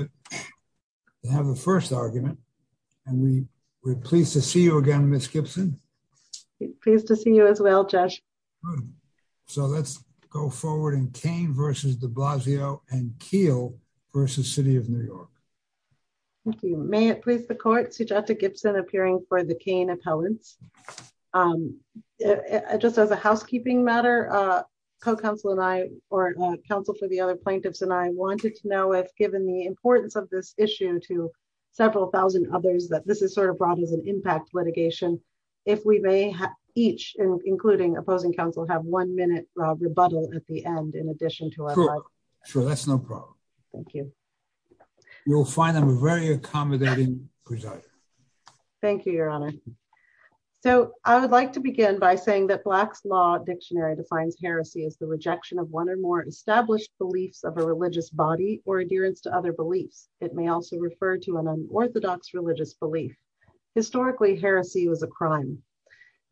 v. City of New York. May it please the court, Suggested Gibson appearing for the Kane appellants. Just as a housekeeping matter, co-counsel and I, or counsel for the other plaintiffs and I, wanted to know if given the importance of the case, and the importance of this issue to several thousand others that this is sort of brought as an impact litigation, if we may each, including opposing counsel, have one minute rebuttal at the end, in addition to our time. Sure, that's no problem. Thank you. You'll find them a very accommodating presider. Thank you, Your Honor. So I would like to begin by saying that Black's Law Dictionary defines heresy as the rejection of one or more established beliefs of a religious body or adherence to other beliefs. It may also refer to an unorthodox religious belief. Historically, heresy was a crime.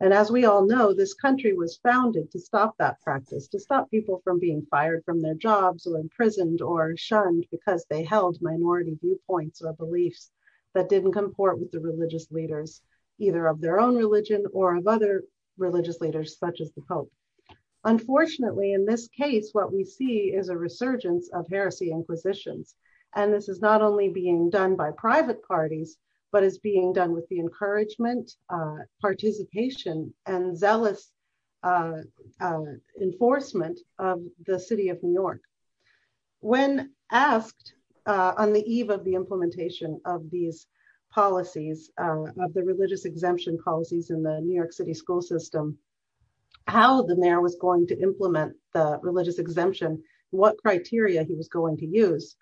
And as we all know, this country was founded to stop that practice, to stop people from being fired from their jobs or imprisoned or shunned because they held minority viewpoints or beliefs that didn't comport with the religious leaders, either of their own religion or of other religious leaders such as the Pope. Unfortunately, in this case, what we see is a resurgence of heresy and heresy. And this is not only being done by private parties, but it's being done with the encouragement, participation, and zealous enforcement of the City of New York. When asked on the eve of the implementation of these policies, of the religious exemption policies in the New York City school system, how the mayor was going to implement the religious exemption, what criteria he was going to use,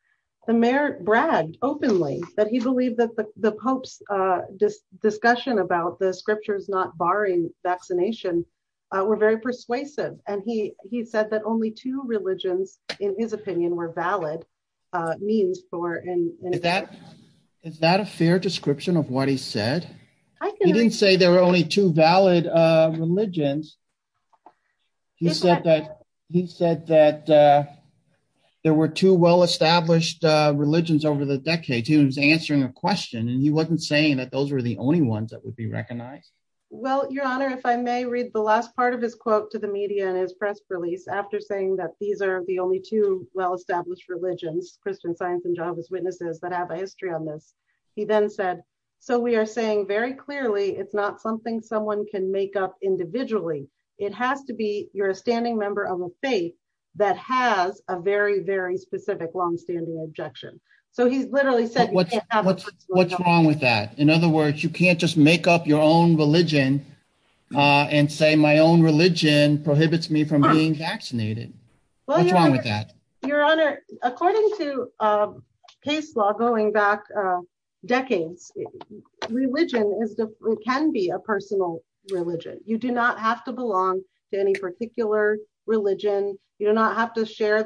the mayor bragged openly that he believed that the Pope's discussion about the scriptures not barring vaccination were very persuasive. And he said that only two religions, in his opinion, were valid means for... Is that a fair description of what he said? He didn't say there were only two valid religions. He said that there were two well-established religions over the decades. He was answering a question and he wasn't saying that those were the only ones that would be recognized. Well, Your Honor, if I may read the last part of his quote to the media and his press release after saying that these are the only two well-established religions, Christian Science and Jehovah's Witnesses, that have a history on this. He then said, so we are saying very clearly it's not something someone can make up individually it has to be you're a standing member of a faith that has a very, very specific long-standing objection. So he literally said... What's wrong with that? In other words, you can't just make up your own religion and say my own religion prohibits me from being vaccinated. What's wrong with that? Your Honor, according to case law going back decades, religion can be a personal religion. You do not have to belong to any particular religion. You do not have to share...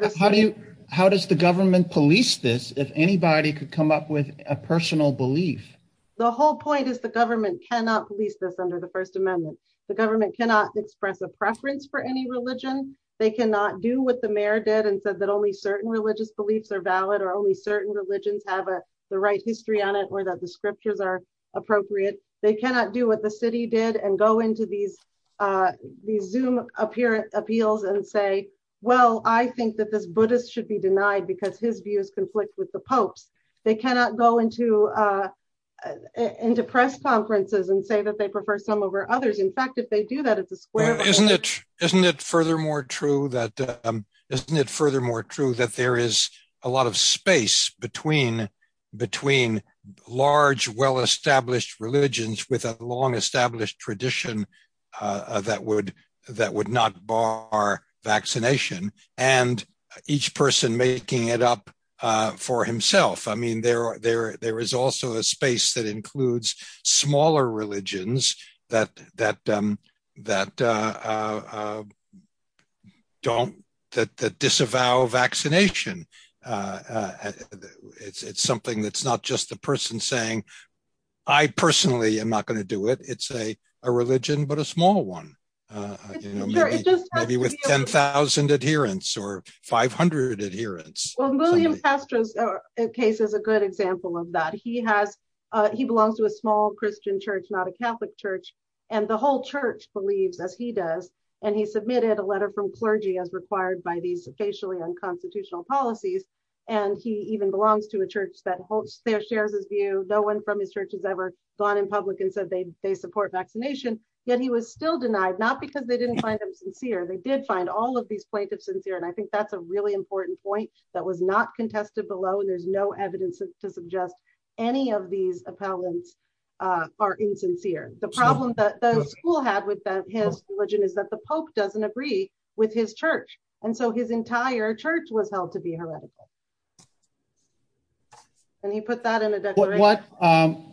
How does the government police this if anybody could come up with a personal belief? The whole point is the government cannot police this under the First Amendment. The government cannot express a preference for any religion. They cannot do what the mayor did and said that only certain religious beliefs are valid or only certain religions have the right history on it or that the scriptures are appropriate. They cannot do what the city did and go into these Zoom appeals and say, well, I think that this Buddhist should be denied because his views conflict with the Pope's. They cannot go into press conferences and say that they prefer some over others. In fact, if they do that, it's a square... Isn't it furthermore true that there is a lot of space between large, well-established religions with a long-established tradition that would not bar vaccination and each person making it up for himself. I mean, there is also a space that includes smaller religions that don't... That disavow vaccination. It's something that's not just the person saying, I personally am not going to do it. It's a religion, but a small one. Maybe with 10,000 adherents or 500 adherents. Well, William Castro's case is a good example of that. He belongs to a small Christian church, not a Catholic church, and the whole church believes, as he does, and he submitted a letter from clergy as required by these facially unconstitutional policies, and he even belongs to a church that shares his view. No one from his church has ever gone to his church and said they support vaccination, yet he was still denied, not because they didn't find him sincere. They did find all of these plaintiffs sincere, and I think that's a really important point that was not contested below, and there's no evidence to suggest any of these appellants are insincere. The problem that the school had with his religion is that the Pope doesn't agree with his church, and so his entire church was held to be heretical. And he put that in the declaration.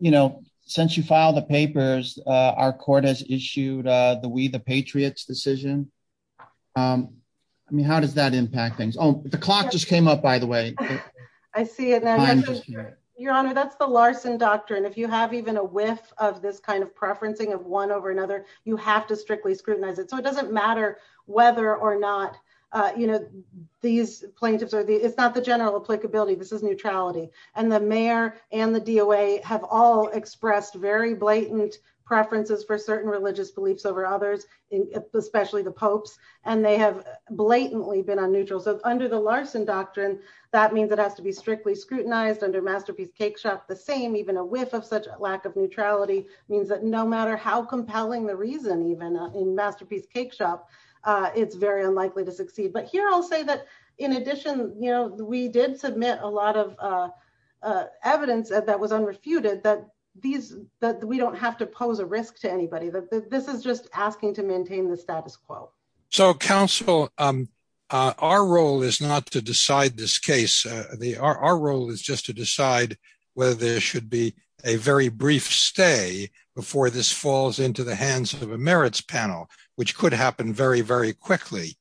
You know, since you filed the papers, our court has issued the We the Patriots decision. I mean, how does that impact things? Oh, the clock just came up, by the way. I see it now. Your Honor, that's the Larson doctrine. If you have even a whiff of this kind of preferencing of one over another, you have to strictly scrutinize it, so it doesn't matter whether or not, you know, the Pope has been on neutral for a long time. It's not the general clickability. This is neutrality. And the mayor and the DOA have all expressed very blatant preferences for certain religious beliefs over others, especially the Pope, and they have blatantly been on neutral. So under the Larson doctrine, that means it has to be strictly scrutinized under Masterpiece Cakeshop. The same, even a whiff of such a lack of neutrality means that no matter how compelling the reason, even in Masterpiece Cakeshop, it's very unlikely to succeed. But here I'll say that, in addition, we did submit a lot of evidence that was unrefuted that we don't have to pose a risk to anybody. This is just asking to maintain the status quo. So, Counsel, our role is not to decide this case. Our role is just to decide whether there should be a very brief stay before this falls into the hands of a merits panel, which could happen very, very quickly.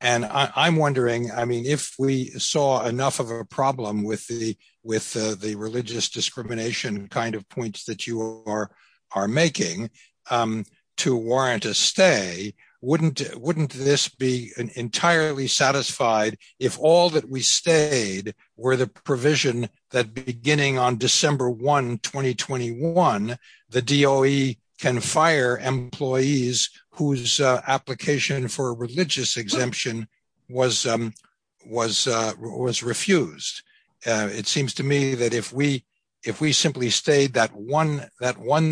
And I'm wondering, I mean, if we saw enough of a problem with the religious discrimination kind of points that you are making to warrant a stay, wouldn't this be entirely satisfied if all that we stayed were the provision that beginning on December 1, 2021, the DOE can fire employees whose application for religious exemption was refused? It seems to me that if we simply stayed that one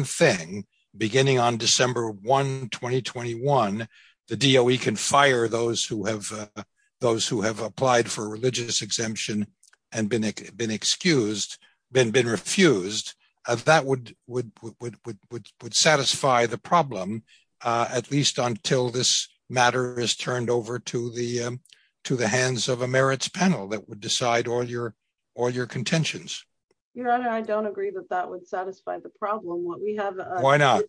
thing, beginning on December 1, 2021, the DOE can fire those who have applied for religious exemption and been excused, been refused, that would satisfy the problem at least until this matter is turned over to the hands of a merits panel that would decide all your contentions. Your Honor, I don't agree that that would satisfy the problem. Why not?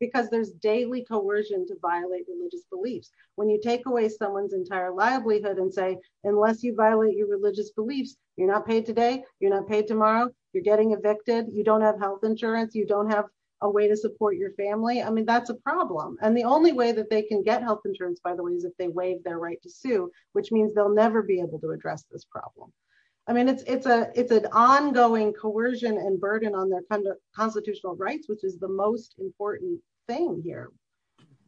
Because there's daily coercion to violate religious beliefs. When you take away someone's entire livelihood and say, unless you violate your religious beliefs, you're not paid today, you're not paid tomorrow, you're getting evicted, you don't have health insurance, you don't have a way to support your family, I mean, that's a problem. And the only way that they can get health insurance, by the way, is if they waive their right to sue, which means they'll never be able to address this problem. I mean, it's an ongoing coercion and burden on their constitutional rights, which is the most important thing here.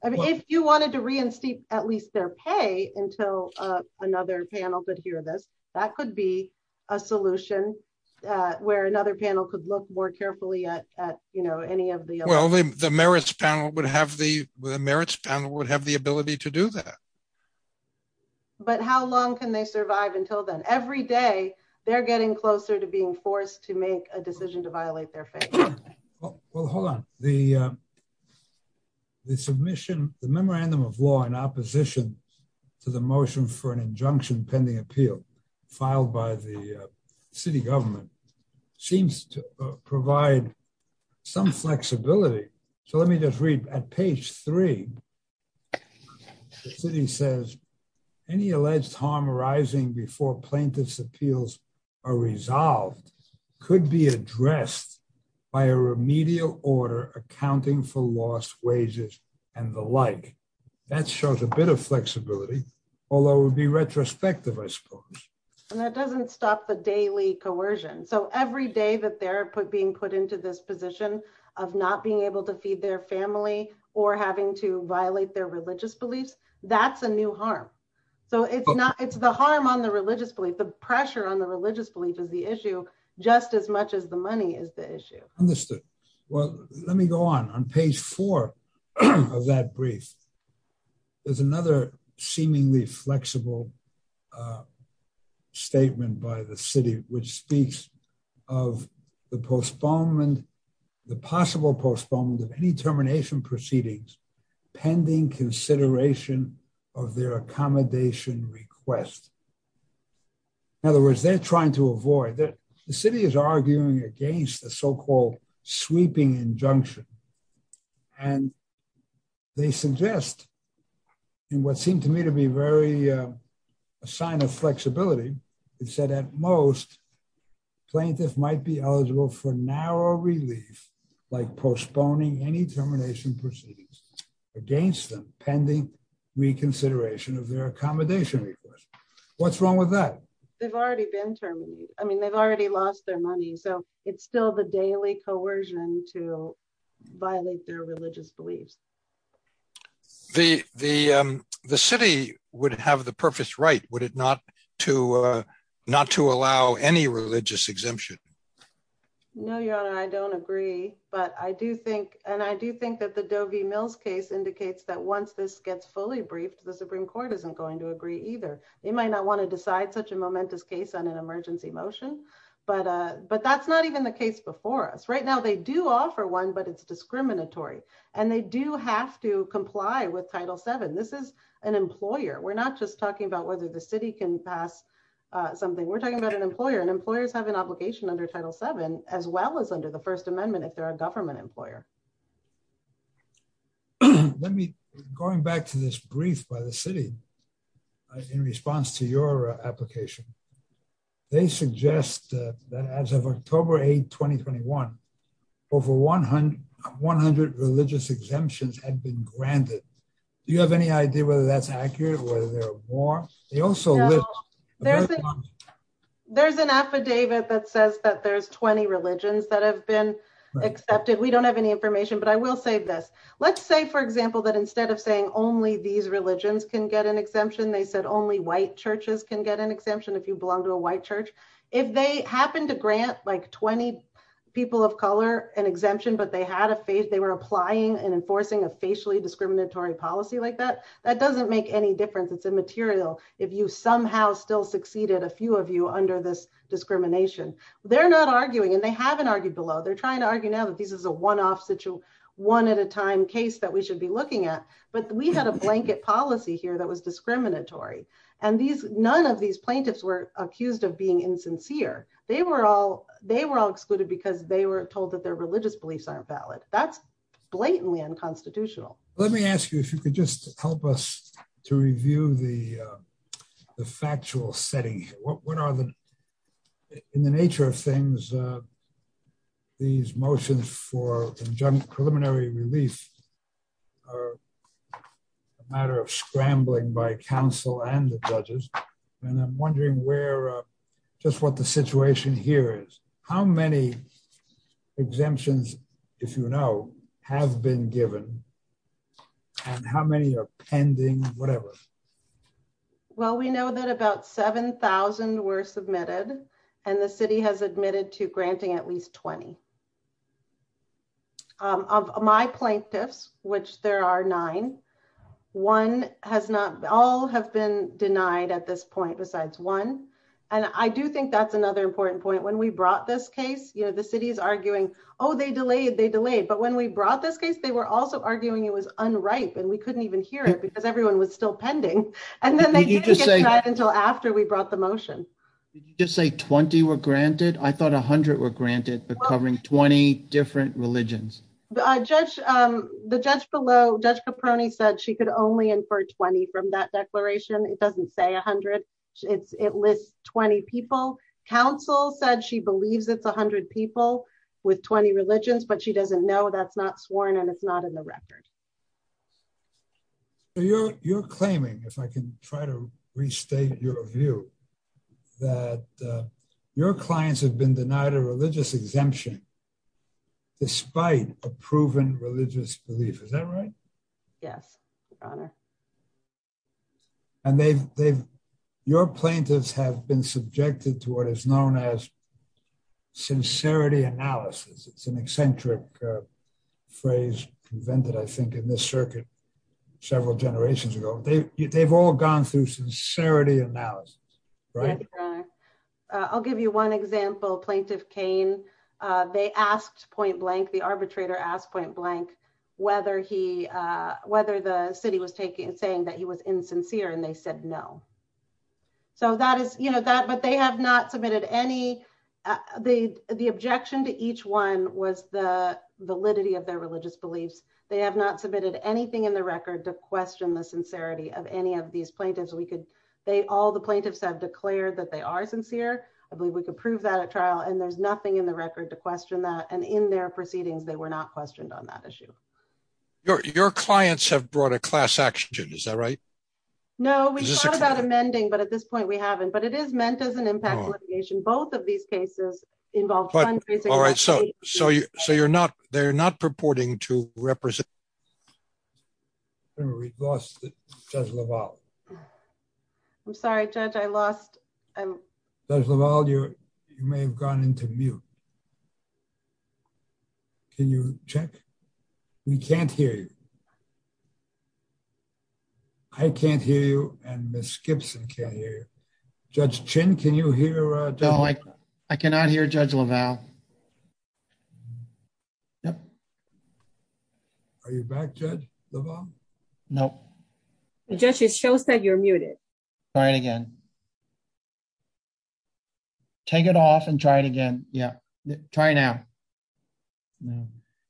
I mean, if you wanted to reinstate at least their pay until another panel could hear this, that could be a solution where another panel could look more carefully at any of the... Well, the merits panel would have the ability to do that. But how long can they survive until then? Every day they're getting closer to being forced to make a decision to violate their faith. Well, hold on. The submission, the memorandum of law in opposition to the motion for an injunction pending appeal filed by the city government seems to provide some flexibility. So let me just read at page three. The city says any alleged harm arising before plaintiff's appeals are resolved could be addressed by a remedial order accounting for lost wages and the like. That shows a bit of flexibility, although it would be retrospective, I suppose. And that doesn't stop the daily coercion. So every day that they're being put into this position of not being able to feed their family or having to violate their religious beliefs, that's a new harm. So it's the harm on the religious belief, the pressure on the religious belief is the issue, just as much as the money is the issue. Understood. Well, let me go on. On page four of that brief, there's another seemingly flexible statement by the city which speaks of the postponement, the possible postponement of any consideration of their accommodation request. In other words, they're trying to avoid. The city is arguing against the so-called sweeping injunction. And they suggest in what seemed to me to be a sign of flexibility, it said at most, plaintiffs might be eligible for narrow relief, like postponing any termination proceedings against them pending reconsideration of their accommodation request. What's wrong with that? They've already been terminated. I mean, they've already lost their money. So it's still the daily coercion to violate their religious beliefs. The city would have the purpose right, would it not to allow any religious exemption? No, Your Honor, I don't agree. But I do think, and I do think that the Doge Mills case indicates that once this gets fully briefed, the Supreme Court isn't going to agree either. They might not want to decide such a momentous case on an emergency motion, but that's not even the case before us. Right now, they do offer one, but it's discriminatory. And they do have to comply with Title VII. This is an employer. We're not just talking about whether the city can pass something. We're talking about an employer, and employers have an obligation under Title VII, as well as under the First Amendment if they're a government employer. Going back to this brief by the city in response to your application, they suggest that as of October 8, 2021, over 100 religious exemptions have been granted. Do you have any idea whether that's accurate, whether there are more? They also list... There's an affidavit that says that there's 20 religions that have been accepted. We don't have any information, but I will say this. Let's say, for example, that instead of saying only these religions can get an exemption, they said only white churches can get an exemption if you belong to a white church. If they happen to grant like 20 people of color an exemption, but they had a phase, they were applying and enforcing a facially discriminatory policy like that, that doesn't make any difference. It's immaterial if you somehow still succeeded, a few of you, under this discrimination. They're not arguing, and they haven't argued the law. They're trying to argue now that this is a one-off, one-at-a-time case that we should be looking at, but we had a blanket policy here that was discriminatory, and none of these plaintiffs were accused of being insincere. They were all excluded because they were told that their religious beliefs aren't valid. That's blatantly unconstitutional. Let me ask you if you could just help us to review the factual setting. What are the... In the nature of things, these motions for preliminary release are a matter of scrambling by counsel and the judges, and I'm wondering just what the situation here is. How many exemptions, if you know, have been given, and how many are pending, whatever? Well, we know that about 7,000 were submitted, and the city has admitted to granting at least 20. Of my plaintiffs, which there are nine, one has not... All have been denied at this point besides one, and I do think that's another important point. When we brought this case, the city is arguing, oh, they delayed, they delayed, but when we brought this case, they were also arguing it was unripe, and we couldn't even hear it because everyone was still pending, and then they didn't get back until after we brought the motion. Did you just say 20 were granted? I thought 100 were granted, but covering 20 different religions. The judge below, Judge Caproni, said she could only infer 20 from that declaration. It doesn't say 100. It lists 20 people. Counsel said she believes it's 100 people with 20 religions, but she doesn't know. That's not sworn, and it's not in the record. You're claiming, if I can try to restate your view, that your clients have been denied a religious exemption despite a proven religious belief. Is that right? Yes, Your Honor. Your plaintiffs have been subjected to what is known as sincerity analysis. It's an eccentric phrase invented, I think, in this circuit several generations ago. They've all gone through sincerity analysis. I'll give you one example. Plaintiff Cain, the arbitrator asked point blank whether the city was saying that he was insincere, and they said no. But they have not submitted any... The objection to each one was the validity of their religious beliefs. They have not submitted anything in the record to question the sincerity of any of these plaintiffs. All the plaintiffs have declared that they are sincere. I believe we can prove that at trial, and there's nothing in the record to question that, and in their proceedings they were not questioned on that issue. Your clients have brought a class action suit. Is that right? No, we've talked about amending, but at this point we haven't. But it is meant as an impact both of these cases involve countries... So they're not purporting to represent... We lost Judge LaValle. I'm sorry, Judge, I lost... Judge LaValle, you may have gone into mute. Can you check? We can't hear you. I can't hear you, and Ms. Gibson can't hear you. Judge Chin, can you hear... I cannot hear Judge LaValle. Are you back, Judge LaValle? No. It just shows that you're muted. Try it again. Take it off and try it again. Yeah. Try now.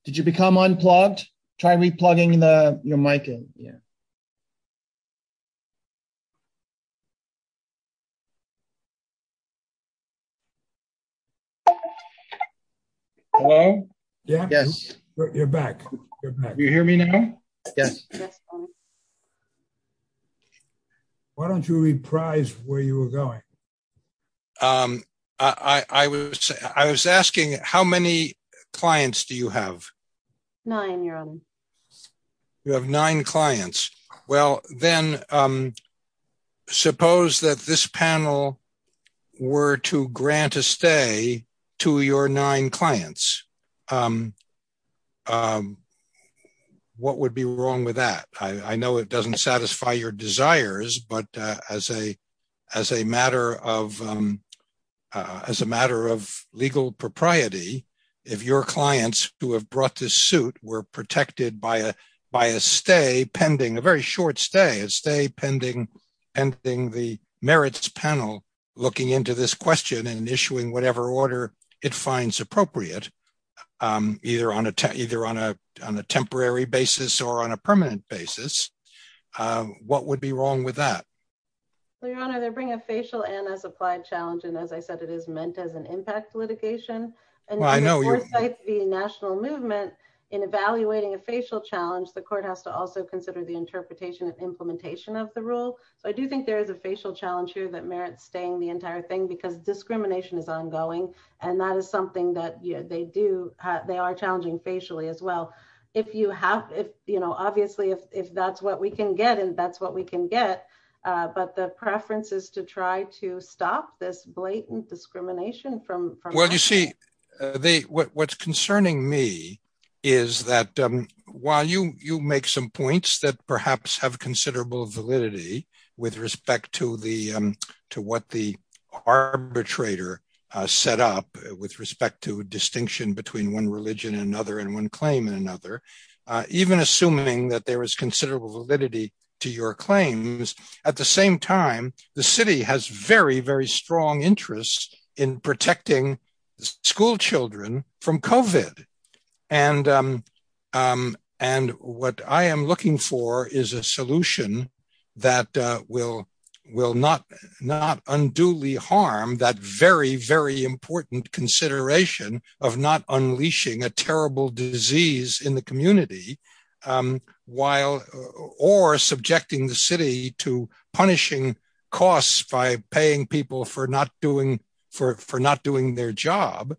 Did you become unplugged? Try replugging your mic in. Hello? Can you hear me now? Yes. You're back. Can you hear me now? Yes. Why don't you reprise where you were going? I was asking how many clients do you have? Nine, Your Honor. You have nine clients. Well, then suppose that this panel were to grant a stay to your nine clients. What would be wrong with that? I know it doesn't satisfy your desires, but as a matter of legal propriety, if your clients who have brought this suit were protected by a stay pending, a very short stay, a stay pending the court, Well, Your Honor, if the court were to require its panel looking into this question and issuing whatever order it finds appropriate, either on a temporary basis or on a permanent basis, what would be wrong with that? Well, Your Honor, they bring a facial and as applied challenge, and as I said, it is meant as an impact litigation. Well, I know. The national movement in evaluating a facial challenge, the court has to also consider the interpretation and implementation of the rule, but I do think there is a facial challenge here that merits saying the entire thing because discrimination is ongoing and that is something that they are challenging facially as well. Obviously, if that's what we can get and that's what we can get, but the preference is to try to stop this blatant discrimination from happening. What's concerning me is that while you make some points that perhaps have considerable validity with respect to what the arbitrator set up with respect to distinction between one religion and another and one claim and another, even assuming that there is considerable validity to your claims, at the same time, the city has very, very strong interest in protecting school children from COVID and what I am looking for is a solution that will not unduly harm that very, very important consideration of not unleashing a terrible disease in the community or subjecting the city to punishing costs by paying people for not doing their job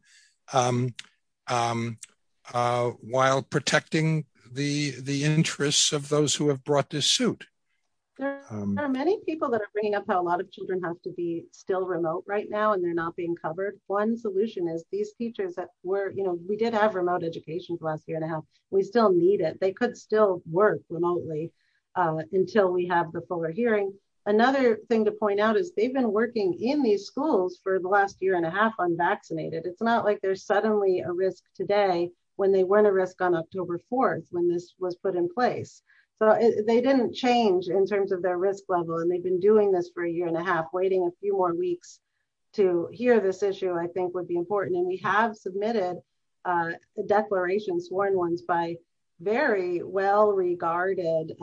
while protecting the interests of those who have brought this suit. There are many people that are bringing up how a lot of children have to be still remote right now and they're not being covered. One solution is these teachers that were, you know, we did have remote educations last year and a half, we still need it. They could still work remotely until we have the fuller hearing. Another thing to point out is they've been working in these schools for the last year and a half unvaccinated. It's not like there's suddenly a risk today when they weren't a risk on October 4th when this was put in place. They didn't change in terms of their risk level and they've been doing this for a year and a half, waiting a few more weeks to hear this issue I think would be important and we have submitted a declaration and sworn ones by very well regarded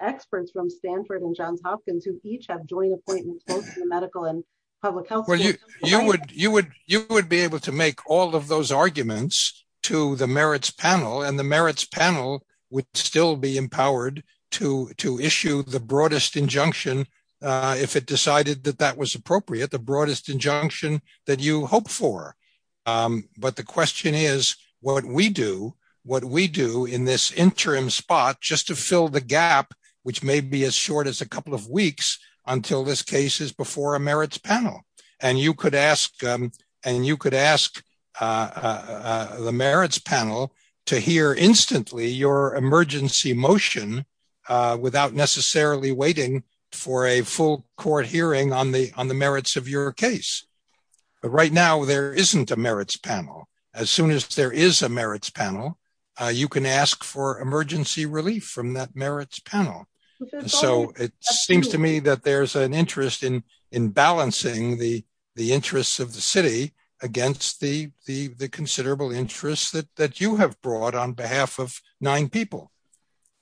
experts from Stanford and Johns Hopkins who each have joint appointments both in the medical and public health. You would be able to make all of those arguments to the merits panel and the merits panel would still be empowered to issue the broadest injunction if it decided that that was appropriate, the broadest injunction that you hope for. But the question is what we do in this interim spot just to fill the gap which may be as short as a couple of weeks until this case is before a merits panel and you could ask the merits panel to hear instantly your emergency motion without necessarily waiting for a full court hearing on the merits of your case. Right now, there isn't a merits panel. As soon as there is a merits panel, you can ask for emergency relief from that merits panel. It seems to me that there's an interest in balancing the interests of the city against the considerable interest that you have brought on behalf of nine people.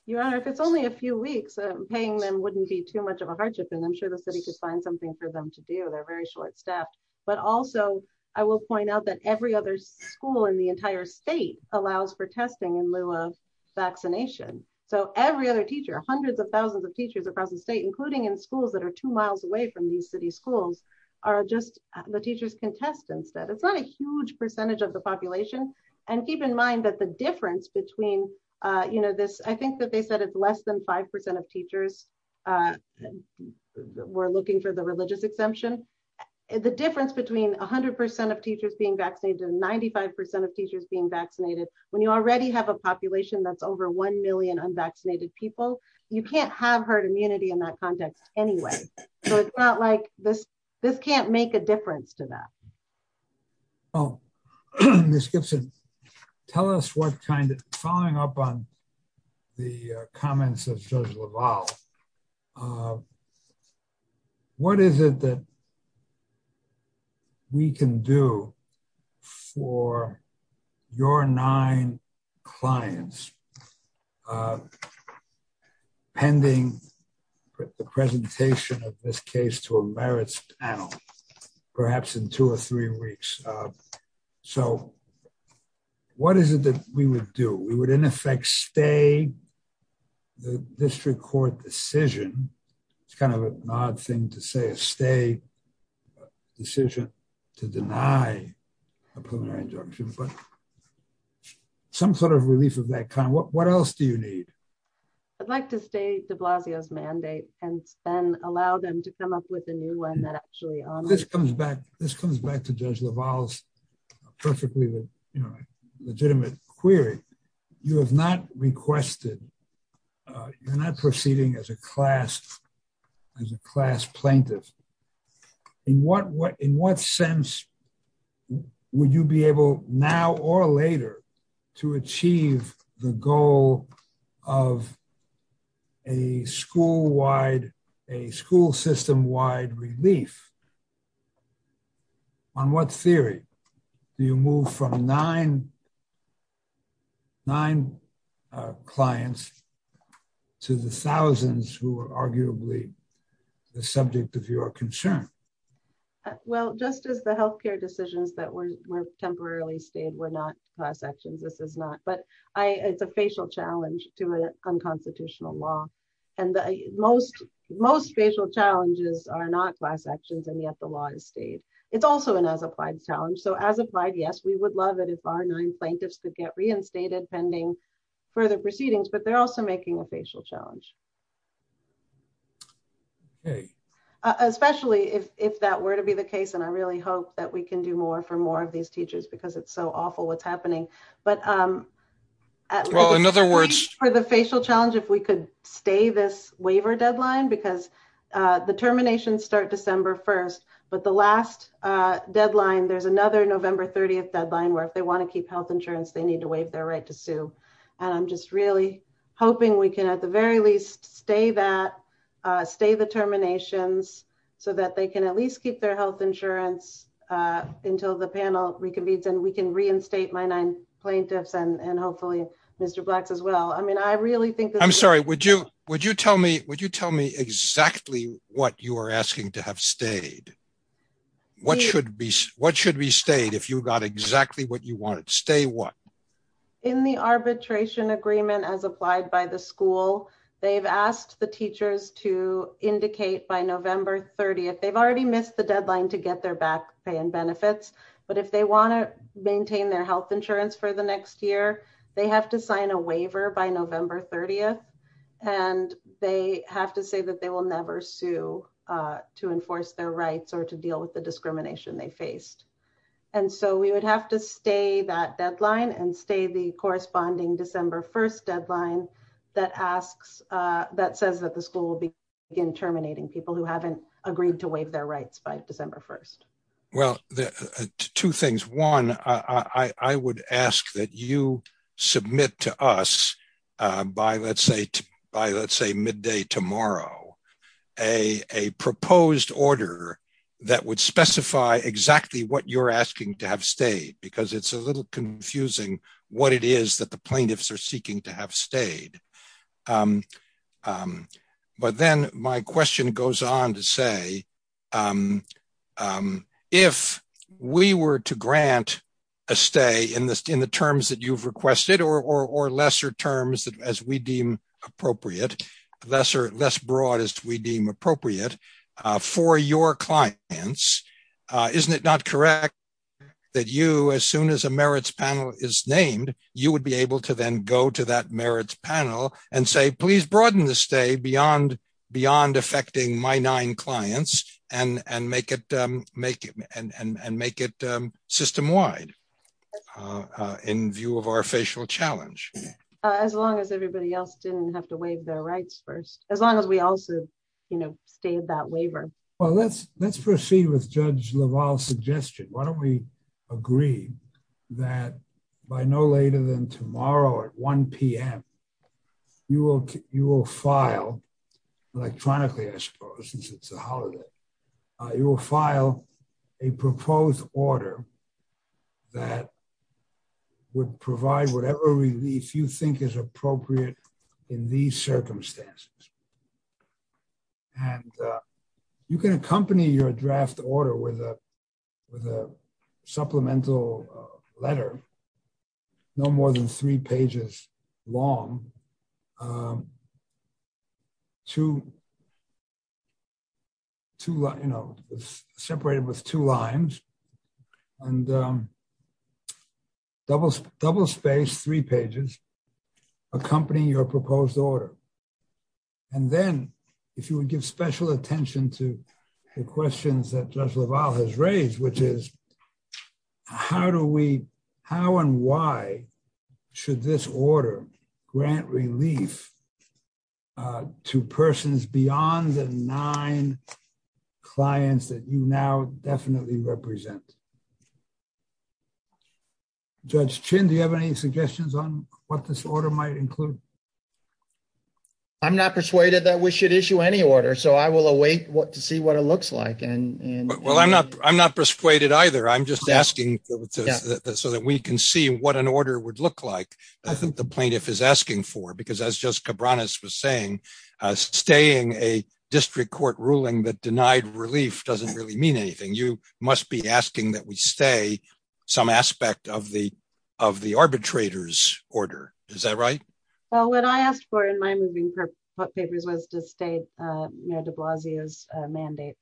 Your Honor, if it's only a few weeks, paying them wouldn't be too much of a hardship and I'm sure the city could find something for them to do. They're very short steps. Also, I will point out that every other school in the entire state allows for testing in lieu of vaccination. So every other teacher, hundreds of thousands of teachers across the state, including in schools that are two miles away from New City schools, are just the teachers' contestants. It's not a huge percentage of the population. between this I think that they said it's less than 5% of teachers were looking for the religious exemption. The difference between 100% of teachers being vaccinated and 95% of teachers being vaccinated, when you already have a population that's over 1 million unvaccinated people, you can't have herd immunity in that context anyway. So it's not like this can't make a difference to them. Ms. Gibson, following up on the comments of Judge LaValle, what is it that we can do for your nine clients pending the presentation of this case to a merits panel, perhaps in two or three weeks? So what is it that we would do? We would, in effect, stay the district court decision it's kind of an odd thing to say, a stay decision to deny a preliminary exemption, but some sort of release of that kind. What else do you need? I'd like to stay de Blasio's mandate and allow them to come up with a new one that actually honors... This comes back to Judge LaValle's perfectly legitimate query. You have not requested... You're not proceeding as a class plaintiff. In what sense would you be able, now or later, to achieve the goal of a school-wide, a school system-wide relief? On what theory do you move from nine clients to the thousands who are arguably the subject of your concern? Just as the healthcare decisions that were temporarily stayed were not class actions, this is not. It's a facial challenge to an unconstitutional law. Most facial challenges are not class actions and yet the law is stayed. It's also an applied challenge. As applied, yes, we would love it if our nine plaintiffs could get reinstated pending further proceedings, but they're also making a facial challenge. Especially if that were to be the case, and I really hope that we can do more for more of these teachers because it's so awful what's happening. In other words... For the facial challenge, if we could stay this waiver deadline because the terminations start December 1st, but the last deadline, there's another November 30th deadline where if they want to keep health insurance, they need to waive their right to sue. I'm just really hoping we can at the very least stay that stay the terminations so that they can at least keep their health insurance until the panel, we can reinstate my nine plaintiffs and hopefully Mr. Black as well. I'm sorry, would you tell me exactly what you are asking to have stayed? What should be stayed if you got exactly what you wanted? Stay what? In the arbitration agreement as applied by the school, they've asked the teachers to indicate by November 30th. They've already missed the deadline to get their back pay and benefits, but if they want to maintain their health insurance for the next year, they have to sign a waiver by November 30th and they have to say that they will never sue to enforce their rights or to deal with the discrimination they face. We would have to stay that deadline and stay the corresponding December 1st deadline that says that the school will begin terminating people who haven't agreed to waive their rights by December 1st. Two things. One, I would ask that you submit to us by midday tomorrow a proposed order that would specify exactly what you're asking to have stayed because it's a little confusing what it is that the plaintiffs are seeking to have stayed. But then my question goes on to say, if we were to grant a stay in the terms that you've requested or lesser terms as we deal appropriate, less broad as we deem appropriate for your clients, isn't it not correct that you, as soon as a merits panel is named, you would be able to then go to that merits panel and say please broaden the stay beyond affecting my nine clients and make it system wide in view of our facial challenge? As long as everybody else didn't have to waive their rights first. As long as we also gave that waiver. Let's proceed with Judge LaValle's suggestion. Why don't we agree that by no later than tomorrow at 1 p.m., you will file electronically, I suppose, since it's a holiday. You will file a proposed order that would provide whatever relief you think is appropriate in these circumstances. You can accompany your draft order with a supplemental letter no more than three pages long. It's separated with two lines. It's a three-page letter and double-spaced three pages accompanying your proposed order. Then if you would give special attention to the questions that Judge LaValle has raised, which is how and why should this order grant relief to persons beyond the nine clients that you now definitely represent? Judge Chin, do you have any suggestions on what this order might include? I'm not persuaded that we should issue any order, so I will await to see what it looks like. I'm not persuaded either. I'm just asking so that we can see what an order would look like. I think the plaintiff is asking for, because as Judge Cabranes was saying, staying a district court ruling that denied relief doesn't really mean anything. You must be asking that we stay some aspect of the arbitrator's order. Is that right? What I asked for in my moving papers was to stay Mayor de Blasio's mandate.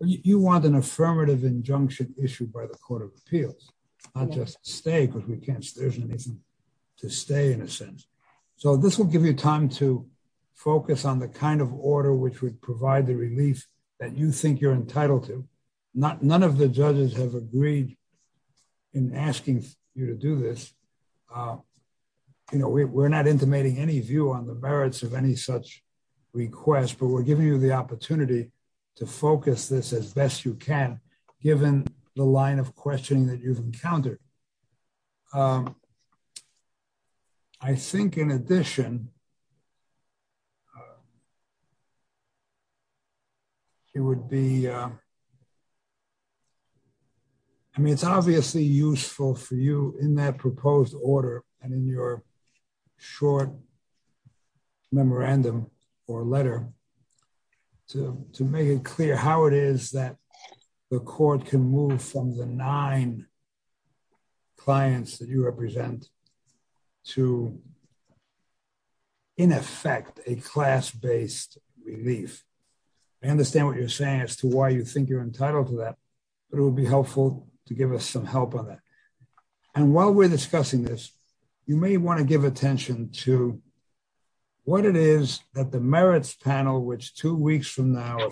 You want an affirmative injunction issued by the Court of Arbitration to stay in a sense. This will give you time to focus on the kind of order which would provide the relief that you think you're entitled to. None of the judges have agreed in asking you to do this. We're not intimating any view on the merits of any such request, but we're giving you the opportunity to focus this as best you can, given the line of questioning that you've encountered. I think in addition, it's obviously useful for you in that proposed order and in your short memorandum or letter to make it clear how it is that the court can move from the nine clients that you represent to in effect a class-based relief. I understand what you're saying as to why you think you're entitled to that, but it would be helpful to give us some help on that. While we're discussing this, you may want to give attention to what it is that the merits panel, which two weeks from now,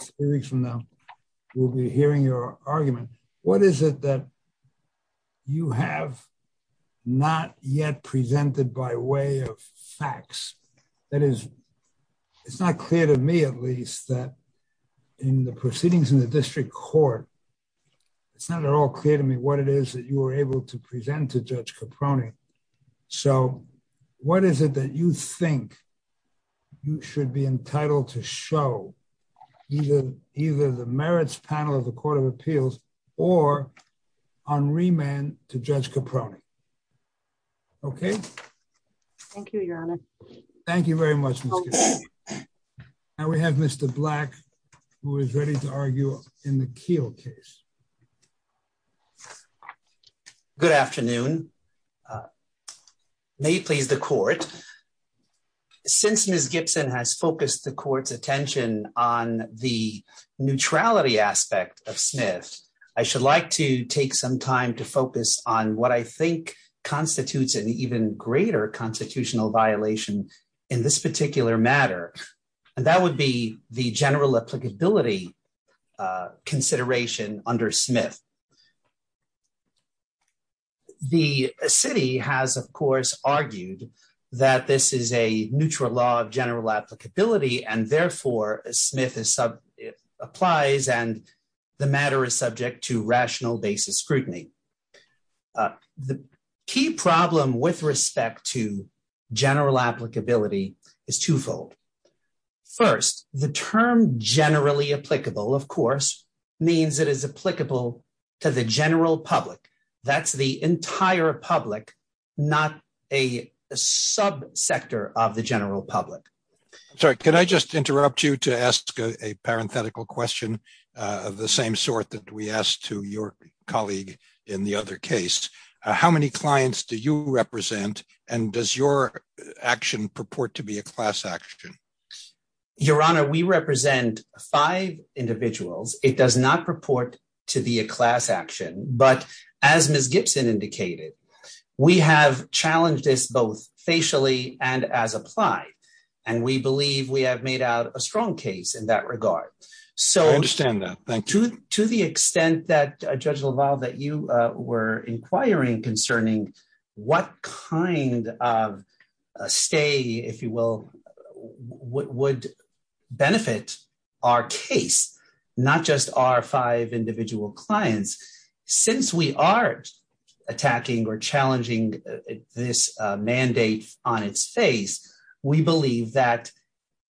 will be hearing your argument. What is it that you have not yet presented by way of facts? That is, it's not clear to me, at least, that in the proceedings in the district court, it's not at all clear to me what it is that you were able to present to Judge Caproni. What is it that you think you should be entitled to show either the merits panel of the Court of Appeals or on remand to Judge Caproni? Okay? Thank you, Your Honor. Thank you very much, Ms. Gibson. Now we have Mr. Black, who is ready to argue in the Keel case. Good afternoon. May you please the court. Since Ms. Gibson has focused the court's attention on the neutrality aspect of Smith, I should like to take some time to focus on what I think constitutes an even greater constitutional violation in this particular matter. That would be the general applicability consideration under Smith. The city has, of course, argued that this is a neutral law of general applicability and therefore Smith applies and the matter is subject to rational basis scrutiny. The key problem with respect to general applicability is twofold. First, the term generally means it is applicable to the general public. That's the entire public, not a sub sector of the general public. Could I just interrupt you to ask a parenthetical question of the same sort that we asked to your colleague in the other case? How many clients do you represent and does your action purport to be a class action? Your Honor, we represent five individuals. It does not purport to be a class action, but as Ms. Gibson indicated, we have challenged this both facially and as applied and we believe we have made out a strong case in that regard. I understand that. To the extent that, Judge LaValle, that you were inquiring concerning what kind of stay, if you will, would benefit our case, not just our five individual clients. Since we are attacking or challenging this mandate on its face, we believe that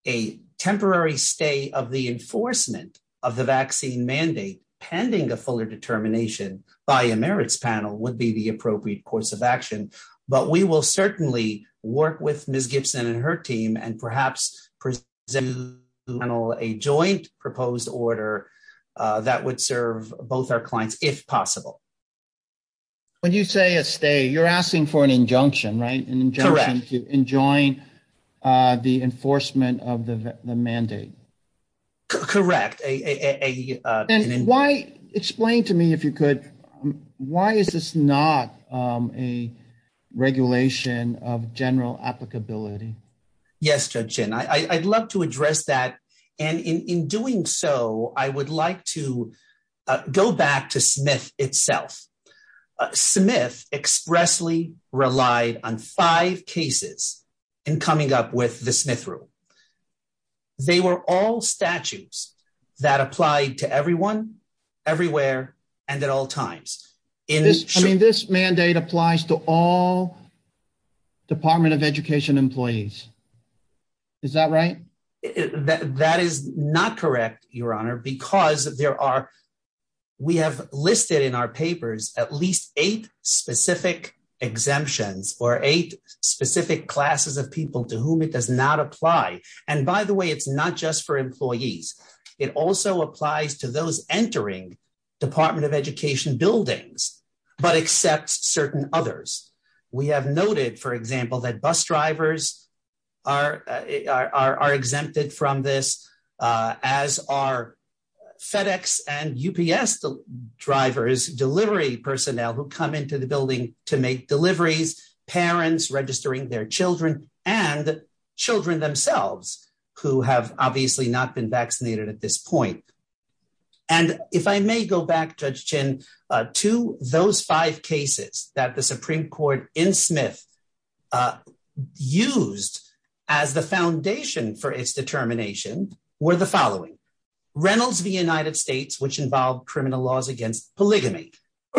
a temporary stay of the enforcement of the vaccine mandate pending a fuller determination by a merits panel would be the appropriate course of action, but we will certainly work with Ms. Gibson and her team and perhaps present a joint proposed order that would serve both our clients if possible. When you say a stay, you're asking for an injunction, right? Correct. Enjoying the enforcement of the mandate. Correct. And why explain to me, if you could, why is this not a regulation of general applicability? Yes, Judge Chin. I'd love to address that and in doing so, I would like to go back to Smith itself. Smith expressly relied on five cases in coming up with the Smith Rule. They were all statutes that applied to everyone everywhere and at all times. This mandate applies to all Department of Education employees. Is that okay? That is not correct, Your Honor, because there are we have listed in our papers at least eight specific exemptions or eight specific classes of people to whom it does not apply. And by the way, it's not just for employees. It also applies to those entering Department of Education buildings, but except certain others. We have noted, for example, that bus drivers are exempted from this as are FedEx and UPS drivers, delivery personnel who come into the building to make deliveries, parents registering their children, and children themselves who have obviously not been vaccinated at this point. And if I may go back, Judge Chin, to those five cases that the Supreme Court in the United States has determined, the foundation for its determination were the following. Reynolds v. United States, which involved criminal laws against polygamy.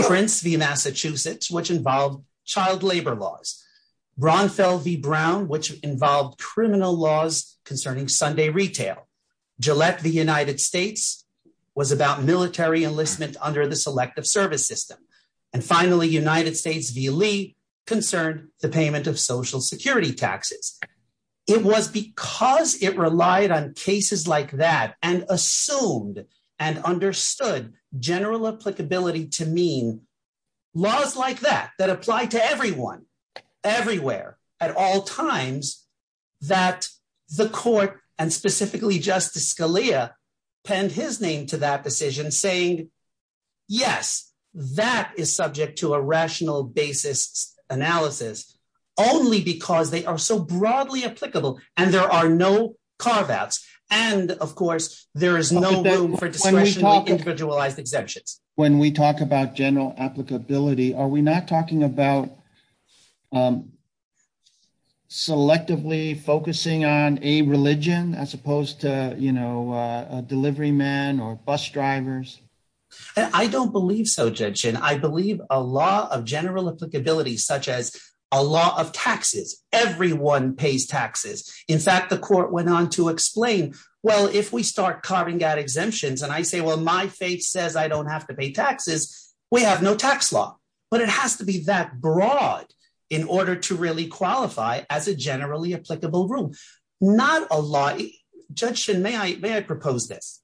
Prince v. Massachusetts, which involved child labor laws. Bronfeld v. Brown, which involved criminal laws concerning Sunday retail. Gillette v. United States was about military enlistment under the Selective Service System. And finally, United States v. Lee concerned the payment of Social Security taxes. It was because it relied on cases like that and assumed and understood general applicability to mean laws like that, that applied to everyone everywhere at all times, that the Court, and specifically Justice Scalia, penned his name to that decision saying, yes, that is subject to a rational basis analysis, only because they are so broadly applicable and there are no carve-outs. And, of course, there is no room for discretionary individualized exemptions. When we talk about general applicability, are we not talking about selectively focusing on a religion as opposed to, you know, delivery men or bus drivers? I don't believe so, Judge Shin. I believe a law of general applicability such as a law of taxes, everyone pays taxes. In fact, the Court went on to explain, well, if we start carving out exemptions, and I say, well, my faith says I don't have to pay taxes, we have no tax law. But it has to be that broad in order to really qualify as a generally applicable rule. Not a law... Judge Shin, may I propose this?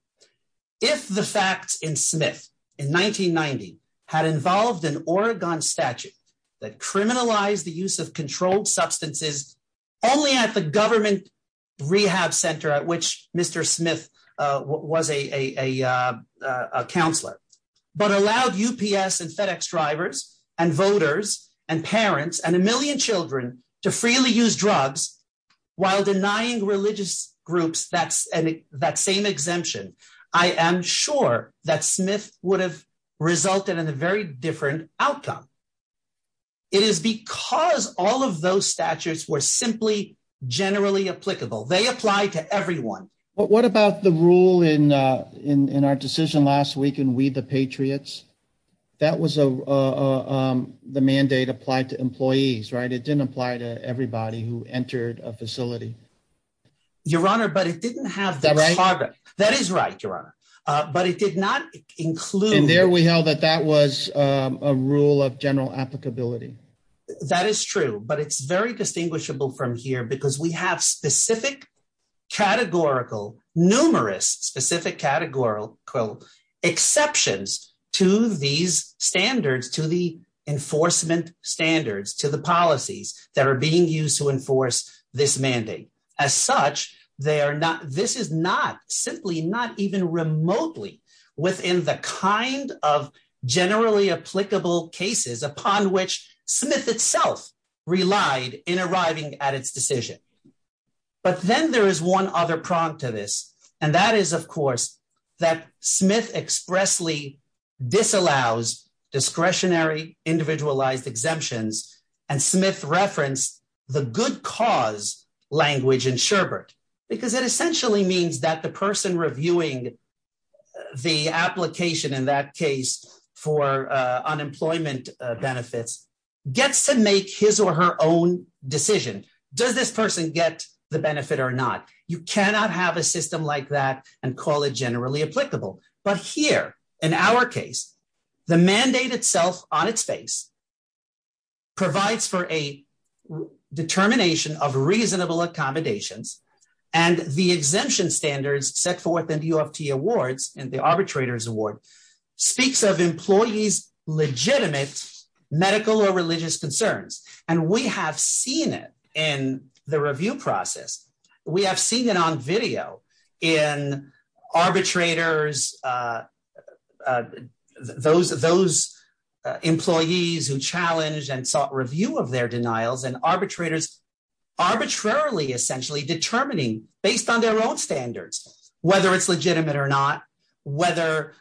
If the facts in Smith in 1990 had involved an Oregon statute that criminalized the use of controlled substances only at the government rehab center at which Mr. Smith was a counselor, but allowed UPS and FedEx drivers and voters and parents and a million children to freely use drugs while denying religious groups that same exemption, I am sure that Smith would have resulted in a very different outcome. It is because all of those statutes were simply generally applicable. They apply to everyone. But what about the rule in our decision last week in We the Patriots? That was the mandate applied to employees, right? It didn't apply to everybody who was a member of the was a member of the organization. Your Honor, but it didn't have... That is right, Your Honor. But it did not include... And there we know that that was a rule of general applicability. That is true. But it is very distinguishable from here because we have specific categorical, numerous specific categorical exceptions to these standards, to the enforcement standards, to the policies that are being used to enforce this mandate. As such, this is not simply, not even remotely within the kind of generally applicable cases upon which Smith itself relied in arriving at its decision. But then there is one other prong to this, and that is of course that Smith expressly disallows discretionary individualized exemptions, and Smith referenced the good cause language in Sherbert, because it essentially means that the person reviewing the application in that case for unemployment benefits gets to make his or her own decision. Does this person get the benefit or not? You cannot have a system like that and call it generally applicable. But here, in our case, the mandate itself on its face provides for a determination of reasonable accommodations, and the exemption standards set forth in the U of T awards, in the arbitrators award, speaks of employees legitimate medical or religious concerns. And we have seen it in the review process. We have seen it on video in arbitrators, those employees who challenged and sought review of their denials, and arbitrators arbitrarily essentially determining, based on their own standards, whether it's legitimate or not, whether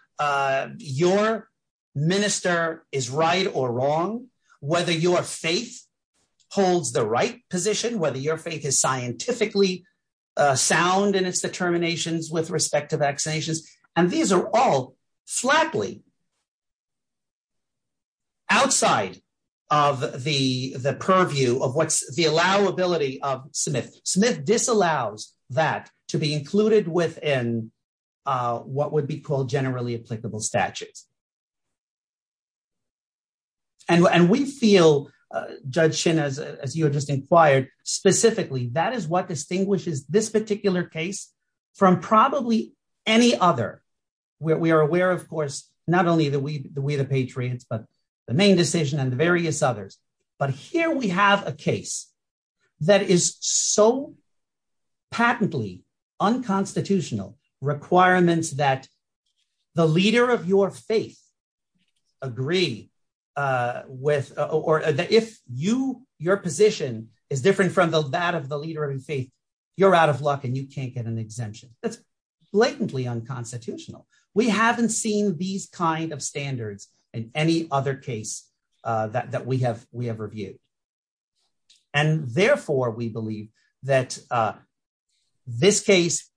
your minister is right or wrong, whether your face holds the right position, whether your face is scientifically sound in its determinations with respect to vaccinations. And these are all flatly outside of the purview of what's the allowability of Smith. Smith disallows that to be included within what would be called generally applicable statutes. And we feel, Judge Shin, as you have just inquired, specifically, that is what distinguishes this particular case from probably any other. We are aware, of course, not only the Ouida Patriots, but the Maine decision and the various others. But here we have a case that is so patently unconstitutional, requirements that the leader of your faith agree with or that if you, your position is different from that of the leader of your faith, you're out of luck and you can't get an exemption. That's blatantly unconstitutional. We haven't seen these kind of standards in any other case that we have reviewed. And therefore, we believe that this case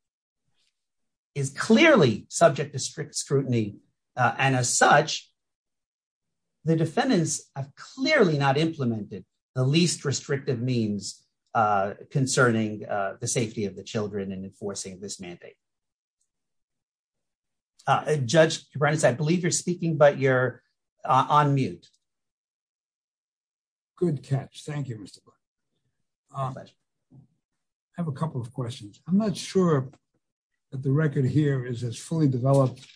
is unconstitutional. And as such, the defendants have clearly not implemented the least restrictive means concerning the safety of the children in enforcing this mandate. Judge Brent, I believe you're speaking, but you're on mute. Good catch. Thank you, Mr. Brent. I have a couple of questions. I'm not sure that the record here is as fully developed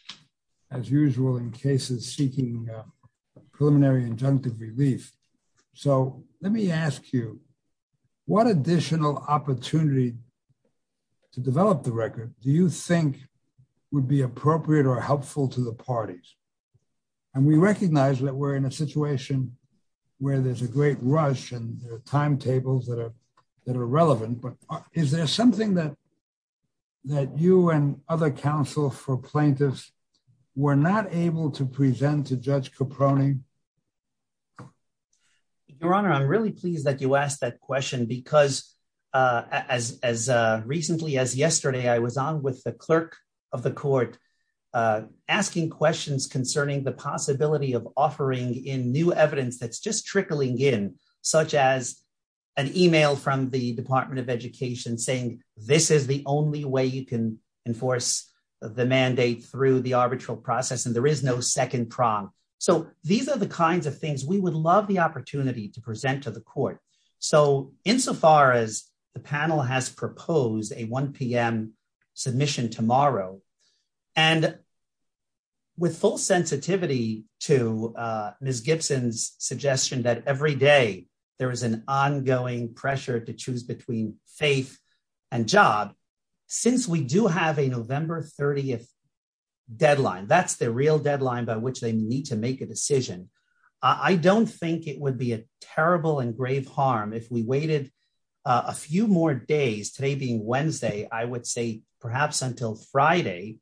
as usual in cases seeking preliminary injunctive release. So let me ask you, what additional opportunity to develop the record do you think would be appropriate or helpful to the parties? And we recognize that we're in a situation where there's a great rush and there are timetables that are relevant, but is there something that you and other counsel for plaintiffs were not able to present to Judge Caproni? Your Honor, I'm really pleased that you asked that question because as recently as yesterday, I was on with the clerk of the court asking questions concerning the possibility of offering in new evidence that's just trickling in, such as an email from the Department of Education saying this is the only way you can enforce the mandate through the arbitral process, and there is no second prompt. These are the kinds of things we would love the opportunity to present to the court. So insofar as the panel has proposed a 1 p.m. submission tomorrow, and with full sensitivity to Ms. Gibson's question, I would say that every day there is an ongoing pressure to choose between faith and job. Since we do have a November 30th deadline, that's the real deadline by which they need to make a decision, I don't think it would be a terrible and grave harm if we waited a few more days, today being Wednesday, I would say perhaps until Friday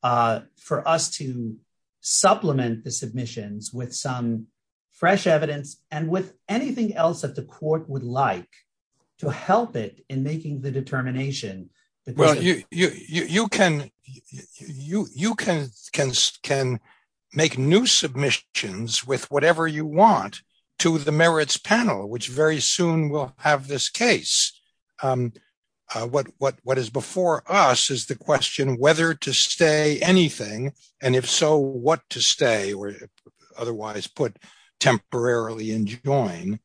for us to supplement the submissions with some fresh evidence and with anything else that the court would like to help it in making the determination. You can make new submissions with whatever you want to the merits panel, which very soon will have this case. What is before us is the question whether to stay anything, and if so, what to stay or otherwise put temporarily and join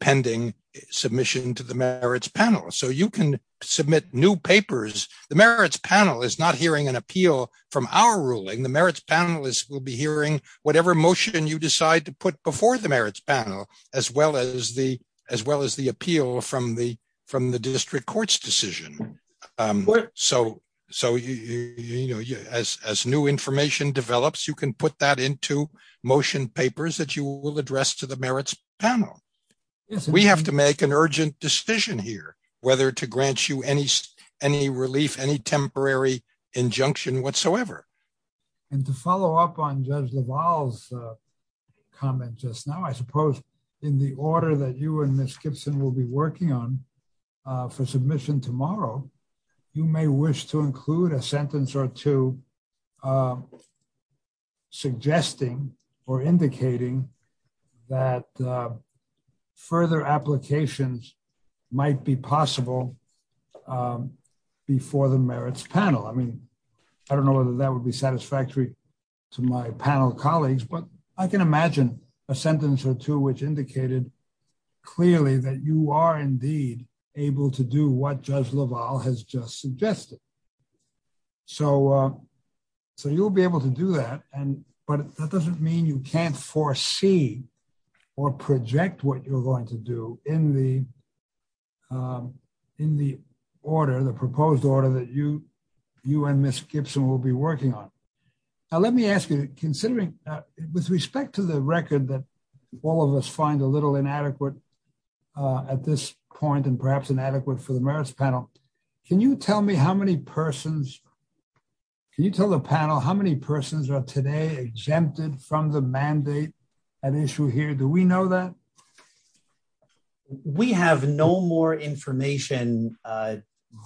pending submission to the merits panel. So you can submit new papers. The merits panel is not hearing an appeal from our ruling. The merits panel will be hearing whatever motion you decide to put before the merits panel as well as the appeal from the district court's decision. As new information develops, you can put that into motion papers that you will address to the merits panel. We have to make an urgent decision here whether to grant you any relief, any temporary injunction whatsoever. To follow up on Judge Duval's comments just now, I suppose in the order that you and Ms. Gibson will be working on for submission tomorrow, you may wish to include a sentence or two suggesting or indicating that further applications might be possible before the merits panel. I mean, I don't know whether that would be satisfactory to my panel colleagues, but I can imagine a sentence or two which indicated clearly that you are indeed able to do what Judge Duval has just suggested. So, you'll be able to do that, but that doesn't mean you can't foresee or project what you're going to do in the order, the proposed order that you and Ms. Gibson will be working on. Now, let me ask you, considering, with respect to the record that all of us find a little inadequate at this point and perhaps inadequate for the merits panel, can you tell me how many persons, can you tell the panel how many persons are today exempted from the mandate at issue here? Do we know that? We have no more information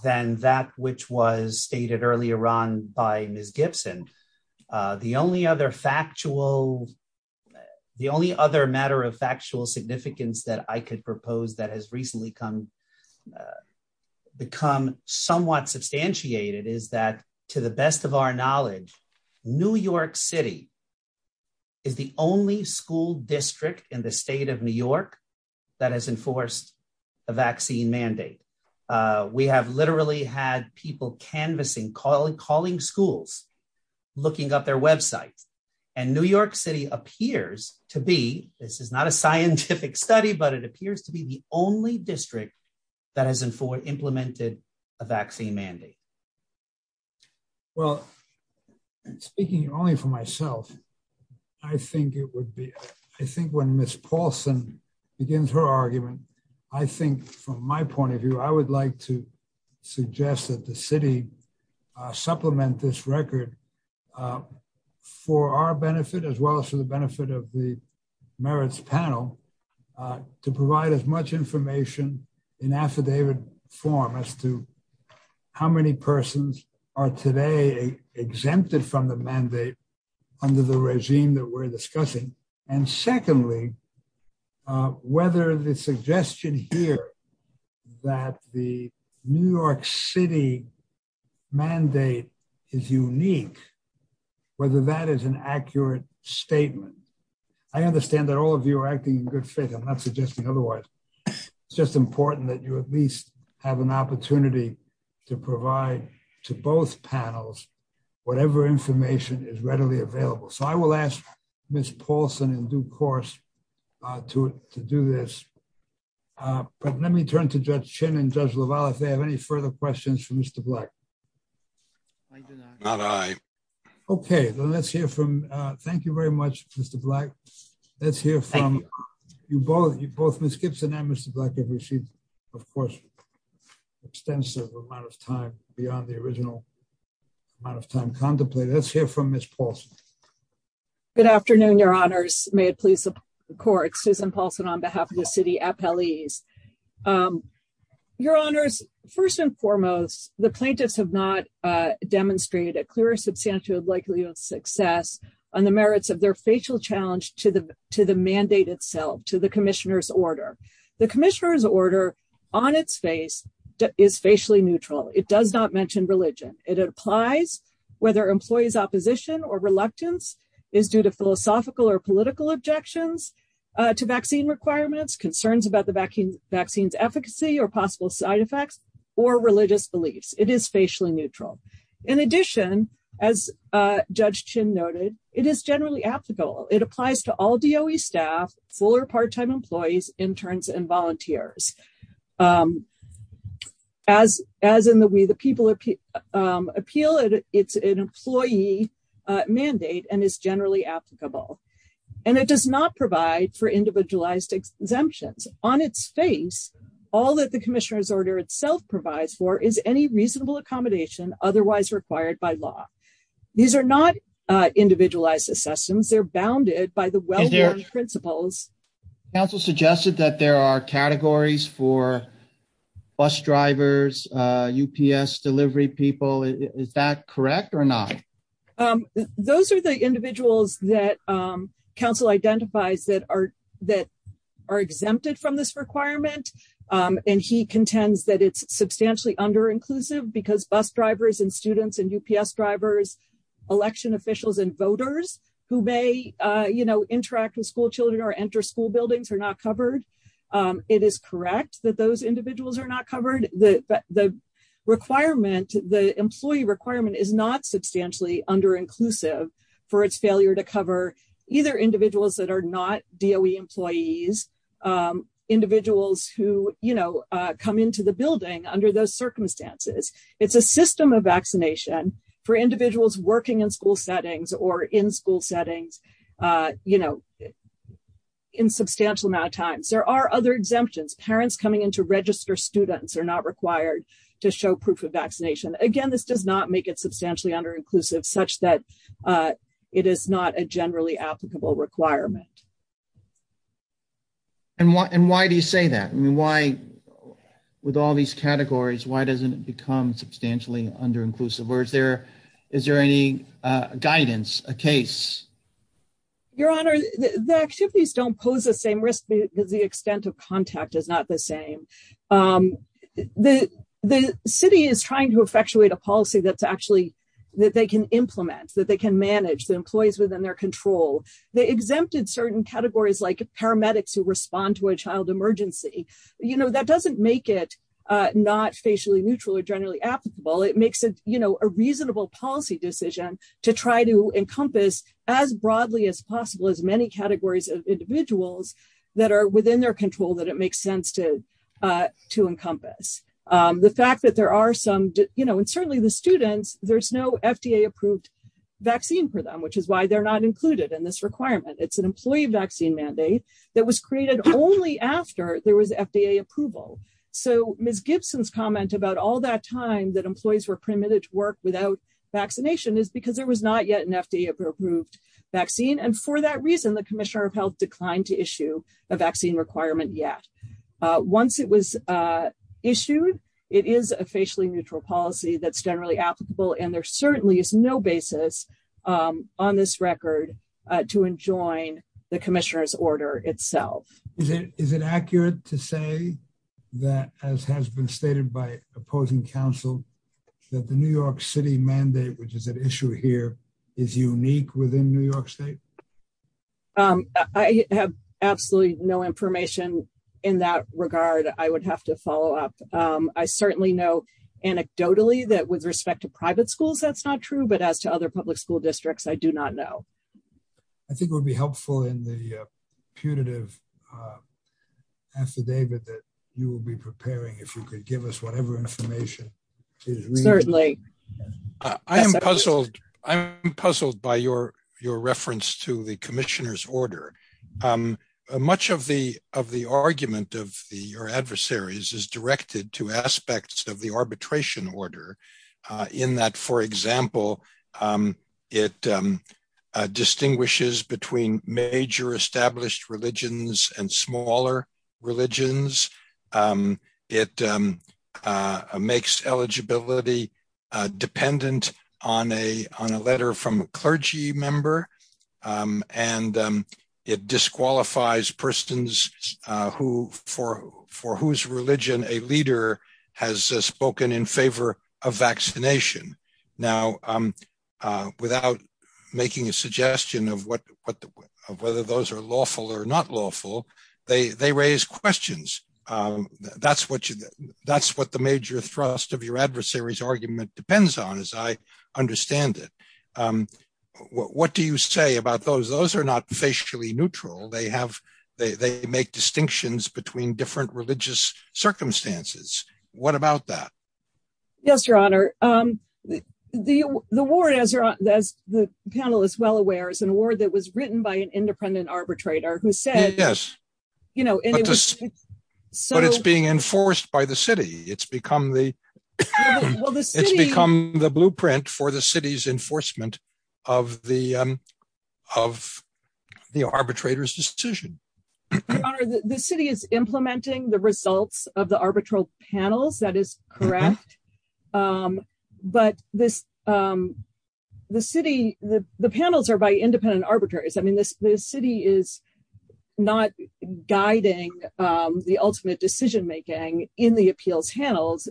than that which was stated earlier on by Ms. Gibson. The only other factual, the only other matter of factual significance that I could propose that has recently become somewhat substantiated is that, to the best of our knowledge, New York City is the only school district in the state of New York that has enforced a vaccine mandate. We have literally had people canvassing, calling schools, looking up their website, and New York City appears to be, this is not a scientific study, but it appears to be the only district that has implemented a vaccine mandate. Well, speaking only for myself, I think it would be, I think when Ms. Paulson begins her argument, I think from my point of view, I would like to suggest that the city supplement this record for our benefit as well as for the benefit of the merits panel to provide as much information in affidavit form as to how many persons are today exempted from the mandate under the regime that we're discussing, and secondly, whether the suggestion here that the New York City mandate is unique, whether that is an accurate statement. I understand that all of you are acting in good faith. I'm not suggesting otherwise. It's just important that you at least have an opportunity to provide to both panels whatever information is readily available. So I will ask Ms. Paulson in due course to do this. Let me turn to Judge Chin and Judge LaValle if they have any further questions for Mr. Black. Not at all. Okay. Thank you very much, Mr. Black. Let's hear from both Ms. Gibson and Mr. Black. Of course, extensive amount of time beyond the original amount of time contemplated. Let's hear from Ms. Paulson. Good afternoon, Your Honors. May it please the court, Susan Paulson on behalf of the city appellees. Your Honors, first and foremost, the plaintiffs have not demonstrated a clearer substantial likelihood of success on the merits of their facial challenge to the mandate itself, to the commissioner's order. The commissioner's order, on its face, is facially neutral. It does not mention religion. It applies whether employee's opposition or reluctance is due to objections to vaccine requirements, concerns about the vaccine's efficacy or possible side effects, or religious beliefs. It is facially neutral. In addition, as Judge Chin noted, it is generally applicable. It applies to all DOE staff, full or part-time employees, interns, and volunteers. As in the way the people appeal it, it's an employee mandate and is generally applicable. And it does not provide for individualized exemptions. On its face, all that the commissioner's order itself provides for is any reasonable accommodation otherwise required by law. These are not individualized assessments. They're bounded by the well-known principles. Council suggested that there are categories for bus drivers, UPS delivery people. Is that correct or not? Those are the individuals that Council identifies that are exempted from this requirement. And he contends that it's substantially under-inclusive because bus drivers and students and UPS drivers, election officials and voters who may interact with school children or enter school buildings correct that those individuals are not covered. The requirement, the employee requirement, is not substantially under-inclusive for its failure to cover either individuals that are not DOE employees, individuals who come into the building under those circumstances. It's a system of vaccination for individuals working in school settings or in school settings in substantial amount of time. There are other exemptions. Parents coming in to register students are not required to show proof of vaccination. Again, this does not make it substantially under-inclusive such that it is not a generally applicable requirement. And why do you say that? With all these categories, why doesn't it become substantially under-inclusive? Or is there any guidance, a case? Your Honor, the activities don't pose the same risk because the extent of contact is not the same. The city is trying to effectuate a policy that they can implement, that they can manage the employees within their control. They exempted certain categories like paramedics who respond to a child emergency. That doesn't make it not spatially neutral or generally applicable. It makes it a reasonable policy decision to try to encompass as broadly as possible as many categories of individuals that are within their control that it makes sense to encompass. The fact that there are some, you know, and certainly the students, there's no FDA-approved vaccine for them, which is why they're not included in this requirement. It's an employee vaccine mandate that was created only after there was FDA approval. So Ms. Gibson's comment about all that time that employees were permitted to work without vaccination is because there was not yet an FDA-approved vaccine. And for that reason, the Commissioner of Health declined to comment. Once it was issued, it is a facially neutral policy that's generally applicable, and there certainly is no basis on this record to enjoin the Commissioner's order itself. Is it accurate to say that, as has been stated by opposing counsel, that the New York City mandate, which is at issue here, is unique within New York State? I have absolutely no information in that regard. I would have to follow up. I certainly know anecdotally that with respect to private schools that's not true, but as to other public school districts, I do not know. I think it would be helpful in the punitive affidavit that you will be preparing if you could give us whatever information. Certainly. I am puzzled by your reference to the Commissioner's order. Much of the argument of your adversaries is directed to aspects of the arbitration order in that, for example, it distinguishes between major established religions and smaller religions. It makes eligibility dependent on a letter from a clergy member and it disqualifies persons for whose religion a leader has spoken in favor of vaccination. Without making a suggestion of whether those are lawful or not lawful, they raise questions. That's what the major thrust of your adversary's argument depends on, as I understand it. What do you say about those? Those are not facially neutral. They make distinctions between different religious circumstances. What about that? Yes, Your Honor. The war, as the panel is well aware, is an war that was written by an independent arbitrator who said... But it's being enforced by the city. It's become the blueprint for the city's enforcement of the arbitrator's decision. Your Honor, the city is implementing the results of the arbitral panel. That is correct. But the city... The panels are by independent arbitrators. The city is not guiding the ultimate decision-making in the appeal channels.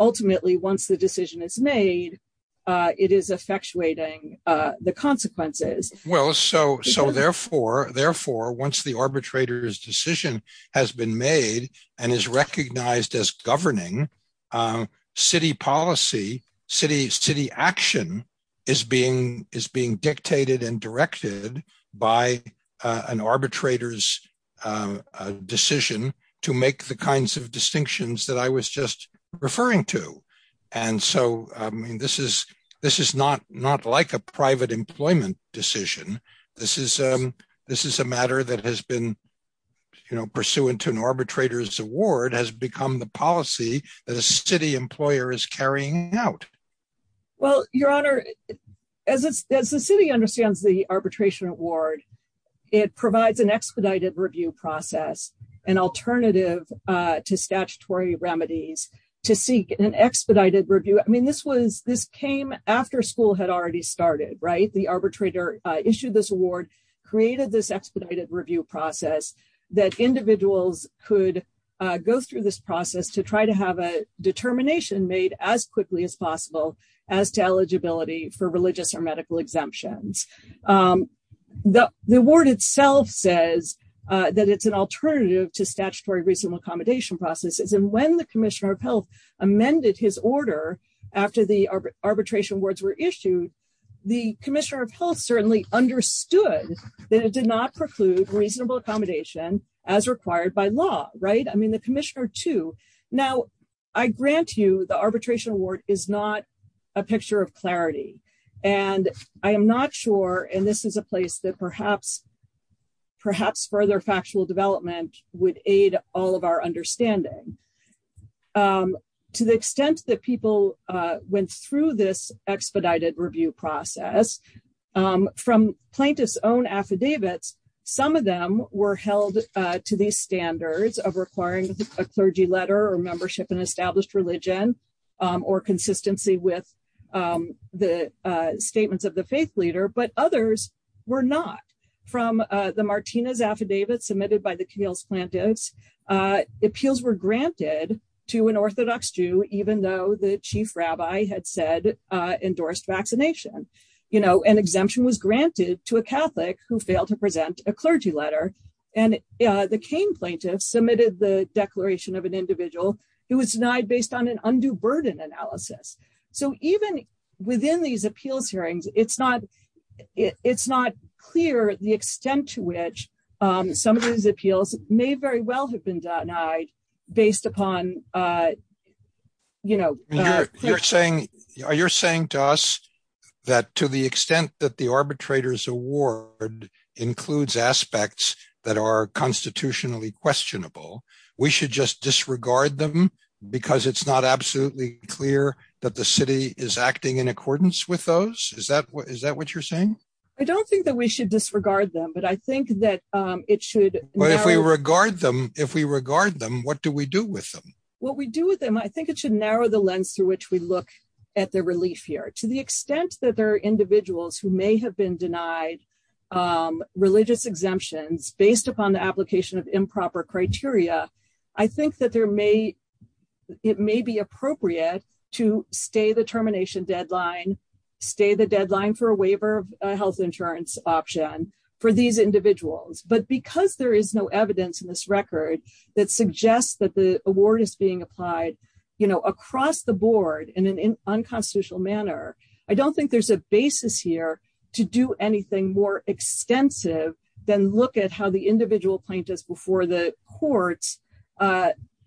Ultimately, once the decision is made, it is effectuating the consequences. Therefore, once the arbitrator's decision has been made and is recognized as governing, city policy, city action, is being dictated and directed by an arbitrator's decision to make the kinds of distinctions that I was just referring to. And so, I mean, this is not like a private employment decision. This is a matter that has been, you know, pursuant to an arbitrator's award, has become the policy that a city employer is carrying out. Well, Your Honor, as the city understands the arbitration award, it provides an expedited review process, an alternative to statutory remedies to seek an expedited review. I mean, this was, this came after school had already started, right? The arbitrator issued this award, created this expedited review process that individuals could go through this process to try to have a determination made as quickly as possible as to eligibility for religious or medical exemptions. The award itself says that it's an alternative to statutory reasonable accommodation processes. And when the Commissioner of Health amended his order after the arbitration awards were issued, the Commissioner of Health certainly understood that it did not preclude reasonable accommodation as required by law, right? I mean, the Commissioner, too. Now, I grant you the arbitration award is not a picture of clarity. And I am not sure, and this is a place that perhaps further factual development would aid all of our understanding. To the extent that people went through this expedited review process, from plaintiff's own affidavits, some of them were held to these standards of requiring a clergy letter or membership in established religion or consistency with the statements of the faith leader, but others were not. From the Martinez affidavit submitted by the appeals plaintiffs, appeals were granted to an Orthodox Jew, even though the chief rabbi had said endorsed vaccination. An exemption was granted to a Catholic who failed to present a clergy letter. And the Cain plaintiffs submitted the declaration of an individual who was denied based on an undue burden analysis. So even within these appeals hearings, it's not clear the extent to which some of these appeals may very well have been denied based upon, you know... You're saying to us that to the extent that the arbitrator's award includes aspects that are constitutionally questionable, we should just disregard them because it's not absolutely clear that the city is acting in accordance with those? Is that what you're saying? I don't think that we should disregard them, but I think that it should... But if we regard them, if we regard them, what do we do with them? What we do with them, I think it should narrow the lens through which we look at the relief here. To the extent that there are individuals who may have been denied religious exemptions based upon the application of improper criteria, I think that there may... There may be a basis here to look at to stay the termination deadline, stay the deadline for a waiver of health insurance option for these individuals. But because there is no evidence in this record that suggests that the award is being applied across the board in an unconstitutional manner, I don't think there's a basis here to do anything more extensive than look at how the individual plaintiffs before the courts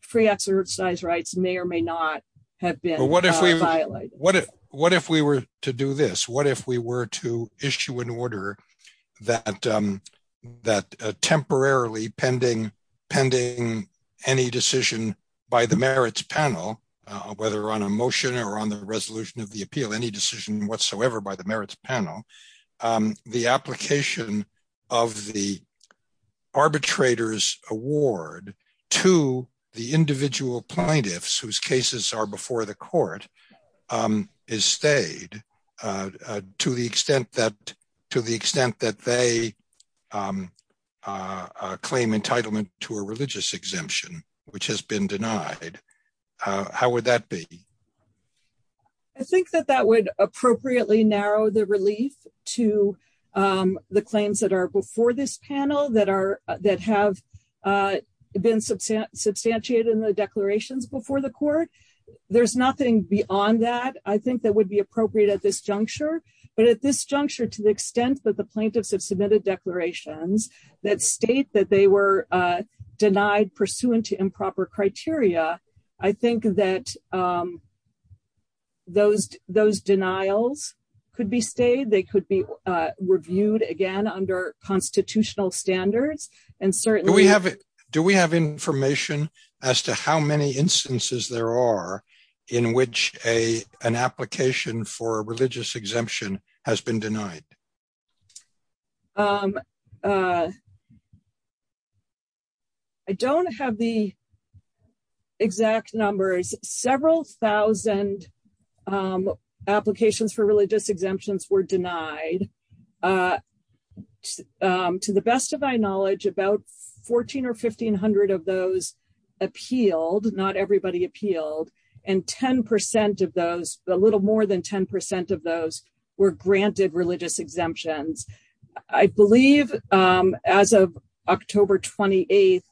free exercise rights may or may not have been violated. What if we were to do this? What if we were to issue an order that temporarily pending any decision by the merits panel, whether on a motion or on the resolution of the appeal, any decision whatsoever by the merits panel, the application of the arbitrator's award to the individual plaintiffs whose cases are before the court is stayed to the extent that they claim entitlement to a religious exemption, which has been denied. How would that be? I think that that would appropriately narrow the relief to the claims that are before this panel that have been substantiated in the declarations before the court. There's nothing beyond that I think that would be appropriate at this juncture. But at this juncture to the extent that the plaintiffs have submitted declarations that state that they were denied pursuant to improper criteria, I think that those denials could be reviewed again under constitutional standards. Do we have information as to how many instances there are in which an application for a religious exemption has been denied? I don't have the exact numbers. Several thousand applications for religious exemptions were denied. To the best of my knowledge, about 1,400 or 1,500 of those appealed, not everybody appealed, and 10% of those, a little more than 10% of those were granted religious exemptions. I believe as of October 28th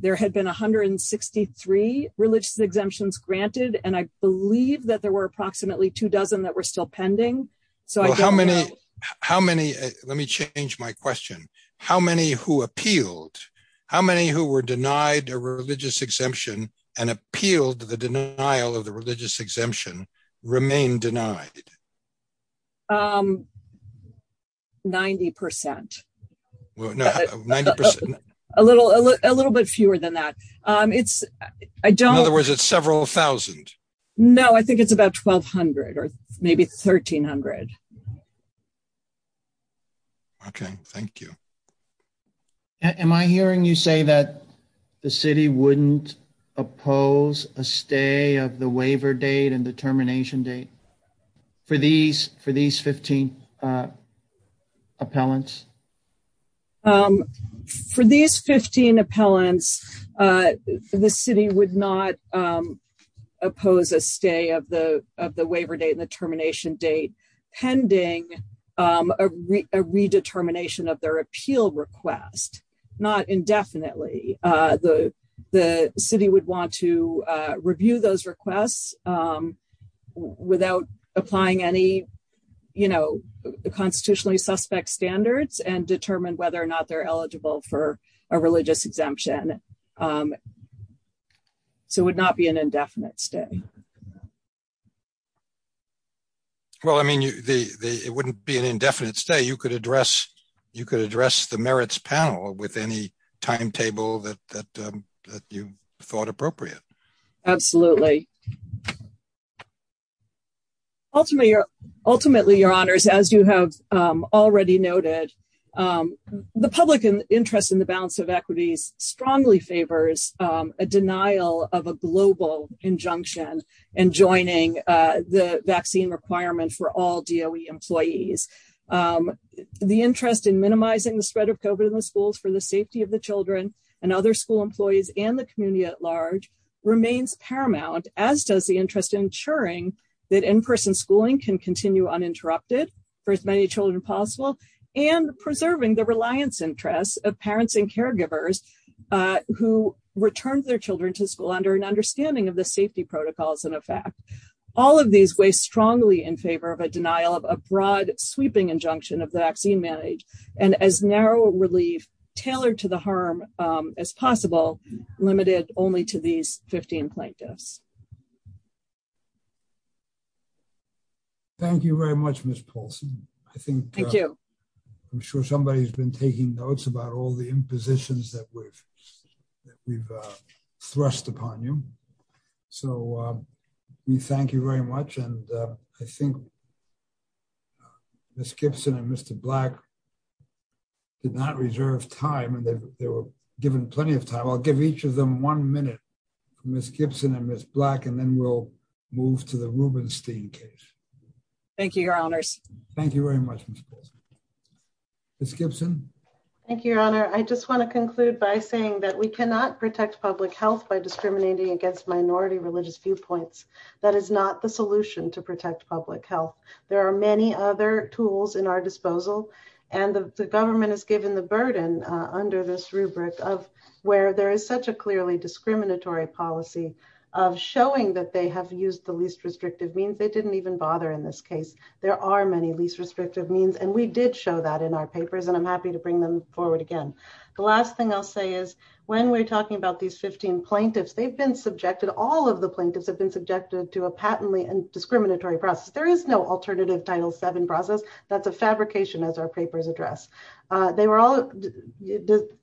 there had been 163 religious exemptions granted and I believe that there were approximately two dozen that were still pending. How many, let me change my question, how many who appealed, how many who were denied a religious exemption and appealed the denial of the religious exemption remain denied? 90%. A little bit fewer than that. In other words, it's several thousand. Is it about 1,200? No, I think it's about 1,200 or maybe 1,300. Okay, thank you. Am I hearing you say that the city wouldn't oppose a stay of the waiver date and the termination date for these 15 appellants? For these 15 appellants, the city would not oppose a stay of the waiver date and the termination date pending a redetermination of their appeal request, not indefinitely. The city would want to review those requests without applying any constitutionally suspect standards and determine whether or not they're eligible for a religious exemption. It would not be an indefinite stay. It wouldn't be an indefinite stay. You could address the merits panel with any timetable that you thought appropriate. Absolutely. Ultimately, Your Honors, as you have already noted, the public interest in the balance of equity strongly favors a denial of a global injunction in joining the vaccine requirement for all DOE employees. The interest in minimizing the spread of COVID in the schools for the safety of the children and other school employees and the community at large remains paramount, as does the interest in ensuring that in-person schooling can continue uninterrupted for as many children as possible and preserving the reliance interest of parents and caregivers who return their children to school under an understanding of the safety protocols in effect. All of these weigh strongly in favor of a denial of a broad sweeping injunction of vaccine manage and as narrow a relief tailored to the harm as possible, limited only to these 15 plaintiffs. Thank you very much, Ms. Paulson. Thank you. I'm sure somebody's been taking notes about all the impositions that we've thrust upon you. So we thank you very much. I think Ms. Gibson and Mr. Black did not reserve time. I'll give each of them one minute. Ms. Gibson and Ms. Paulson, and then we'll move to the Rubenstein case. Thank you, Your Honors. Thank you very much, Ms. Paulson. Ms. Gibson? Thank you, Your Honor. I just want to conclude by saying that we cannot protect public health by discriminating against minority religious viewpoints. That is not the solution to protect public health. There are many other tools in our disposal, and the government has given the burden under this rubric of where there is such a clearly discriminatory policy of showing that they have used the least restrictive means. They didn't even bother in this case. There are many least restrictive means, and we did show that in our papers, and I'm happy to bring them forward again. The last thing I'll say is when we're talking about these 15 plaintiffs, they've been subjected, all of the plaintiffs have been subjected to a patently discriminatory process. There is no alternative Title VII process. That's a fabrication as our papers address. They were all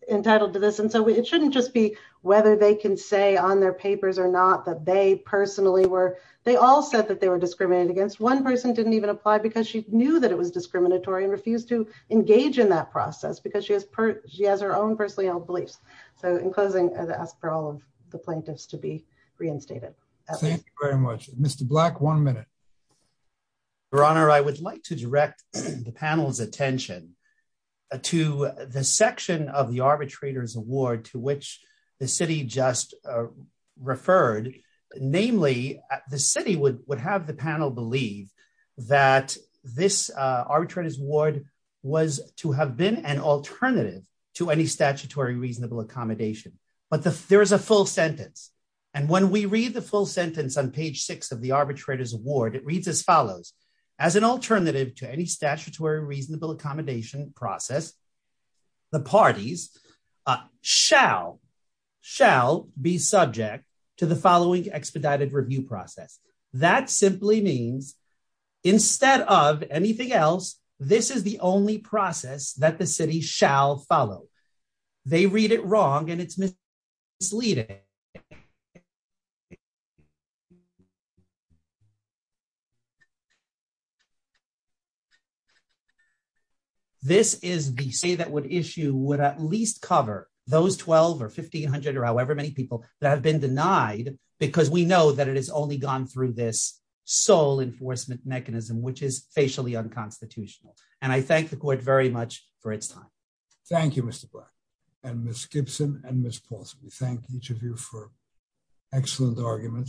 entitled to this. It shouldn't just be whether they can say on their papers or not that they personally were, they all said that they were discriminated against. One person didn't even apply because she knew that it was discriminatory and refused to engage in that process because she has her own personally held beliefs. In closing, I ask for all of the plaintiffs to be reinstated. Thank you very much. Mr. Black, one minute. Your Honor, I would like to direct the panel's attention to the section of the arbitrator's award to which the city just referred. Namely, the city would have the panel believe that this arbitrator's award was to have been an alternative to any statutory reasonable accommodation. There is a full sentence. When we read the full sentence on page six of the arbitrator's award, it reads as follows. As an alternative to any statutory reasonable accommodation process, the parties shall be subject to the following extradited review process. That simply means instead of anything else, this is the only process that the city shall follow. They read it wrong and it's misleading. This is the issue that would at least cover those 1,200 or 1,500 or however many people that have been denied because we know that it has only gone through this sole enforcement mechanism, which is facially unconstitutional. I thank the court very much for its time. Thank you, Mr. Black and Ms. Gibson and Ms. Paulson. We thank each of you for excellent arguments.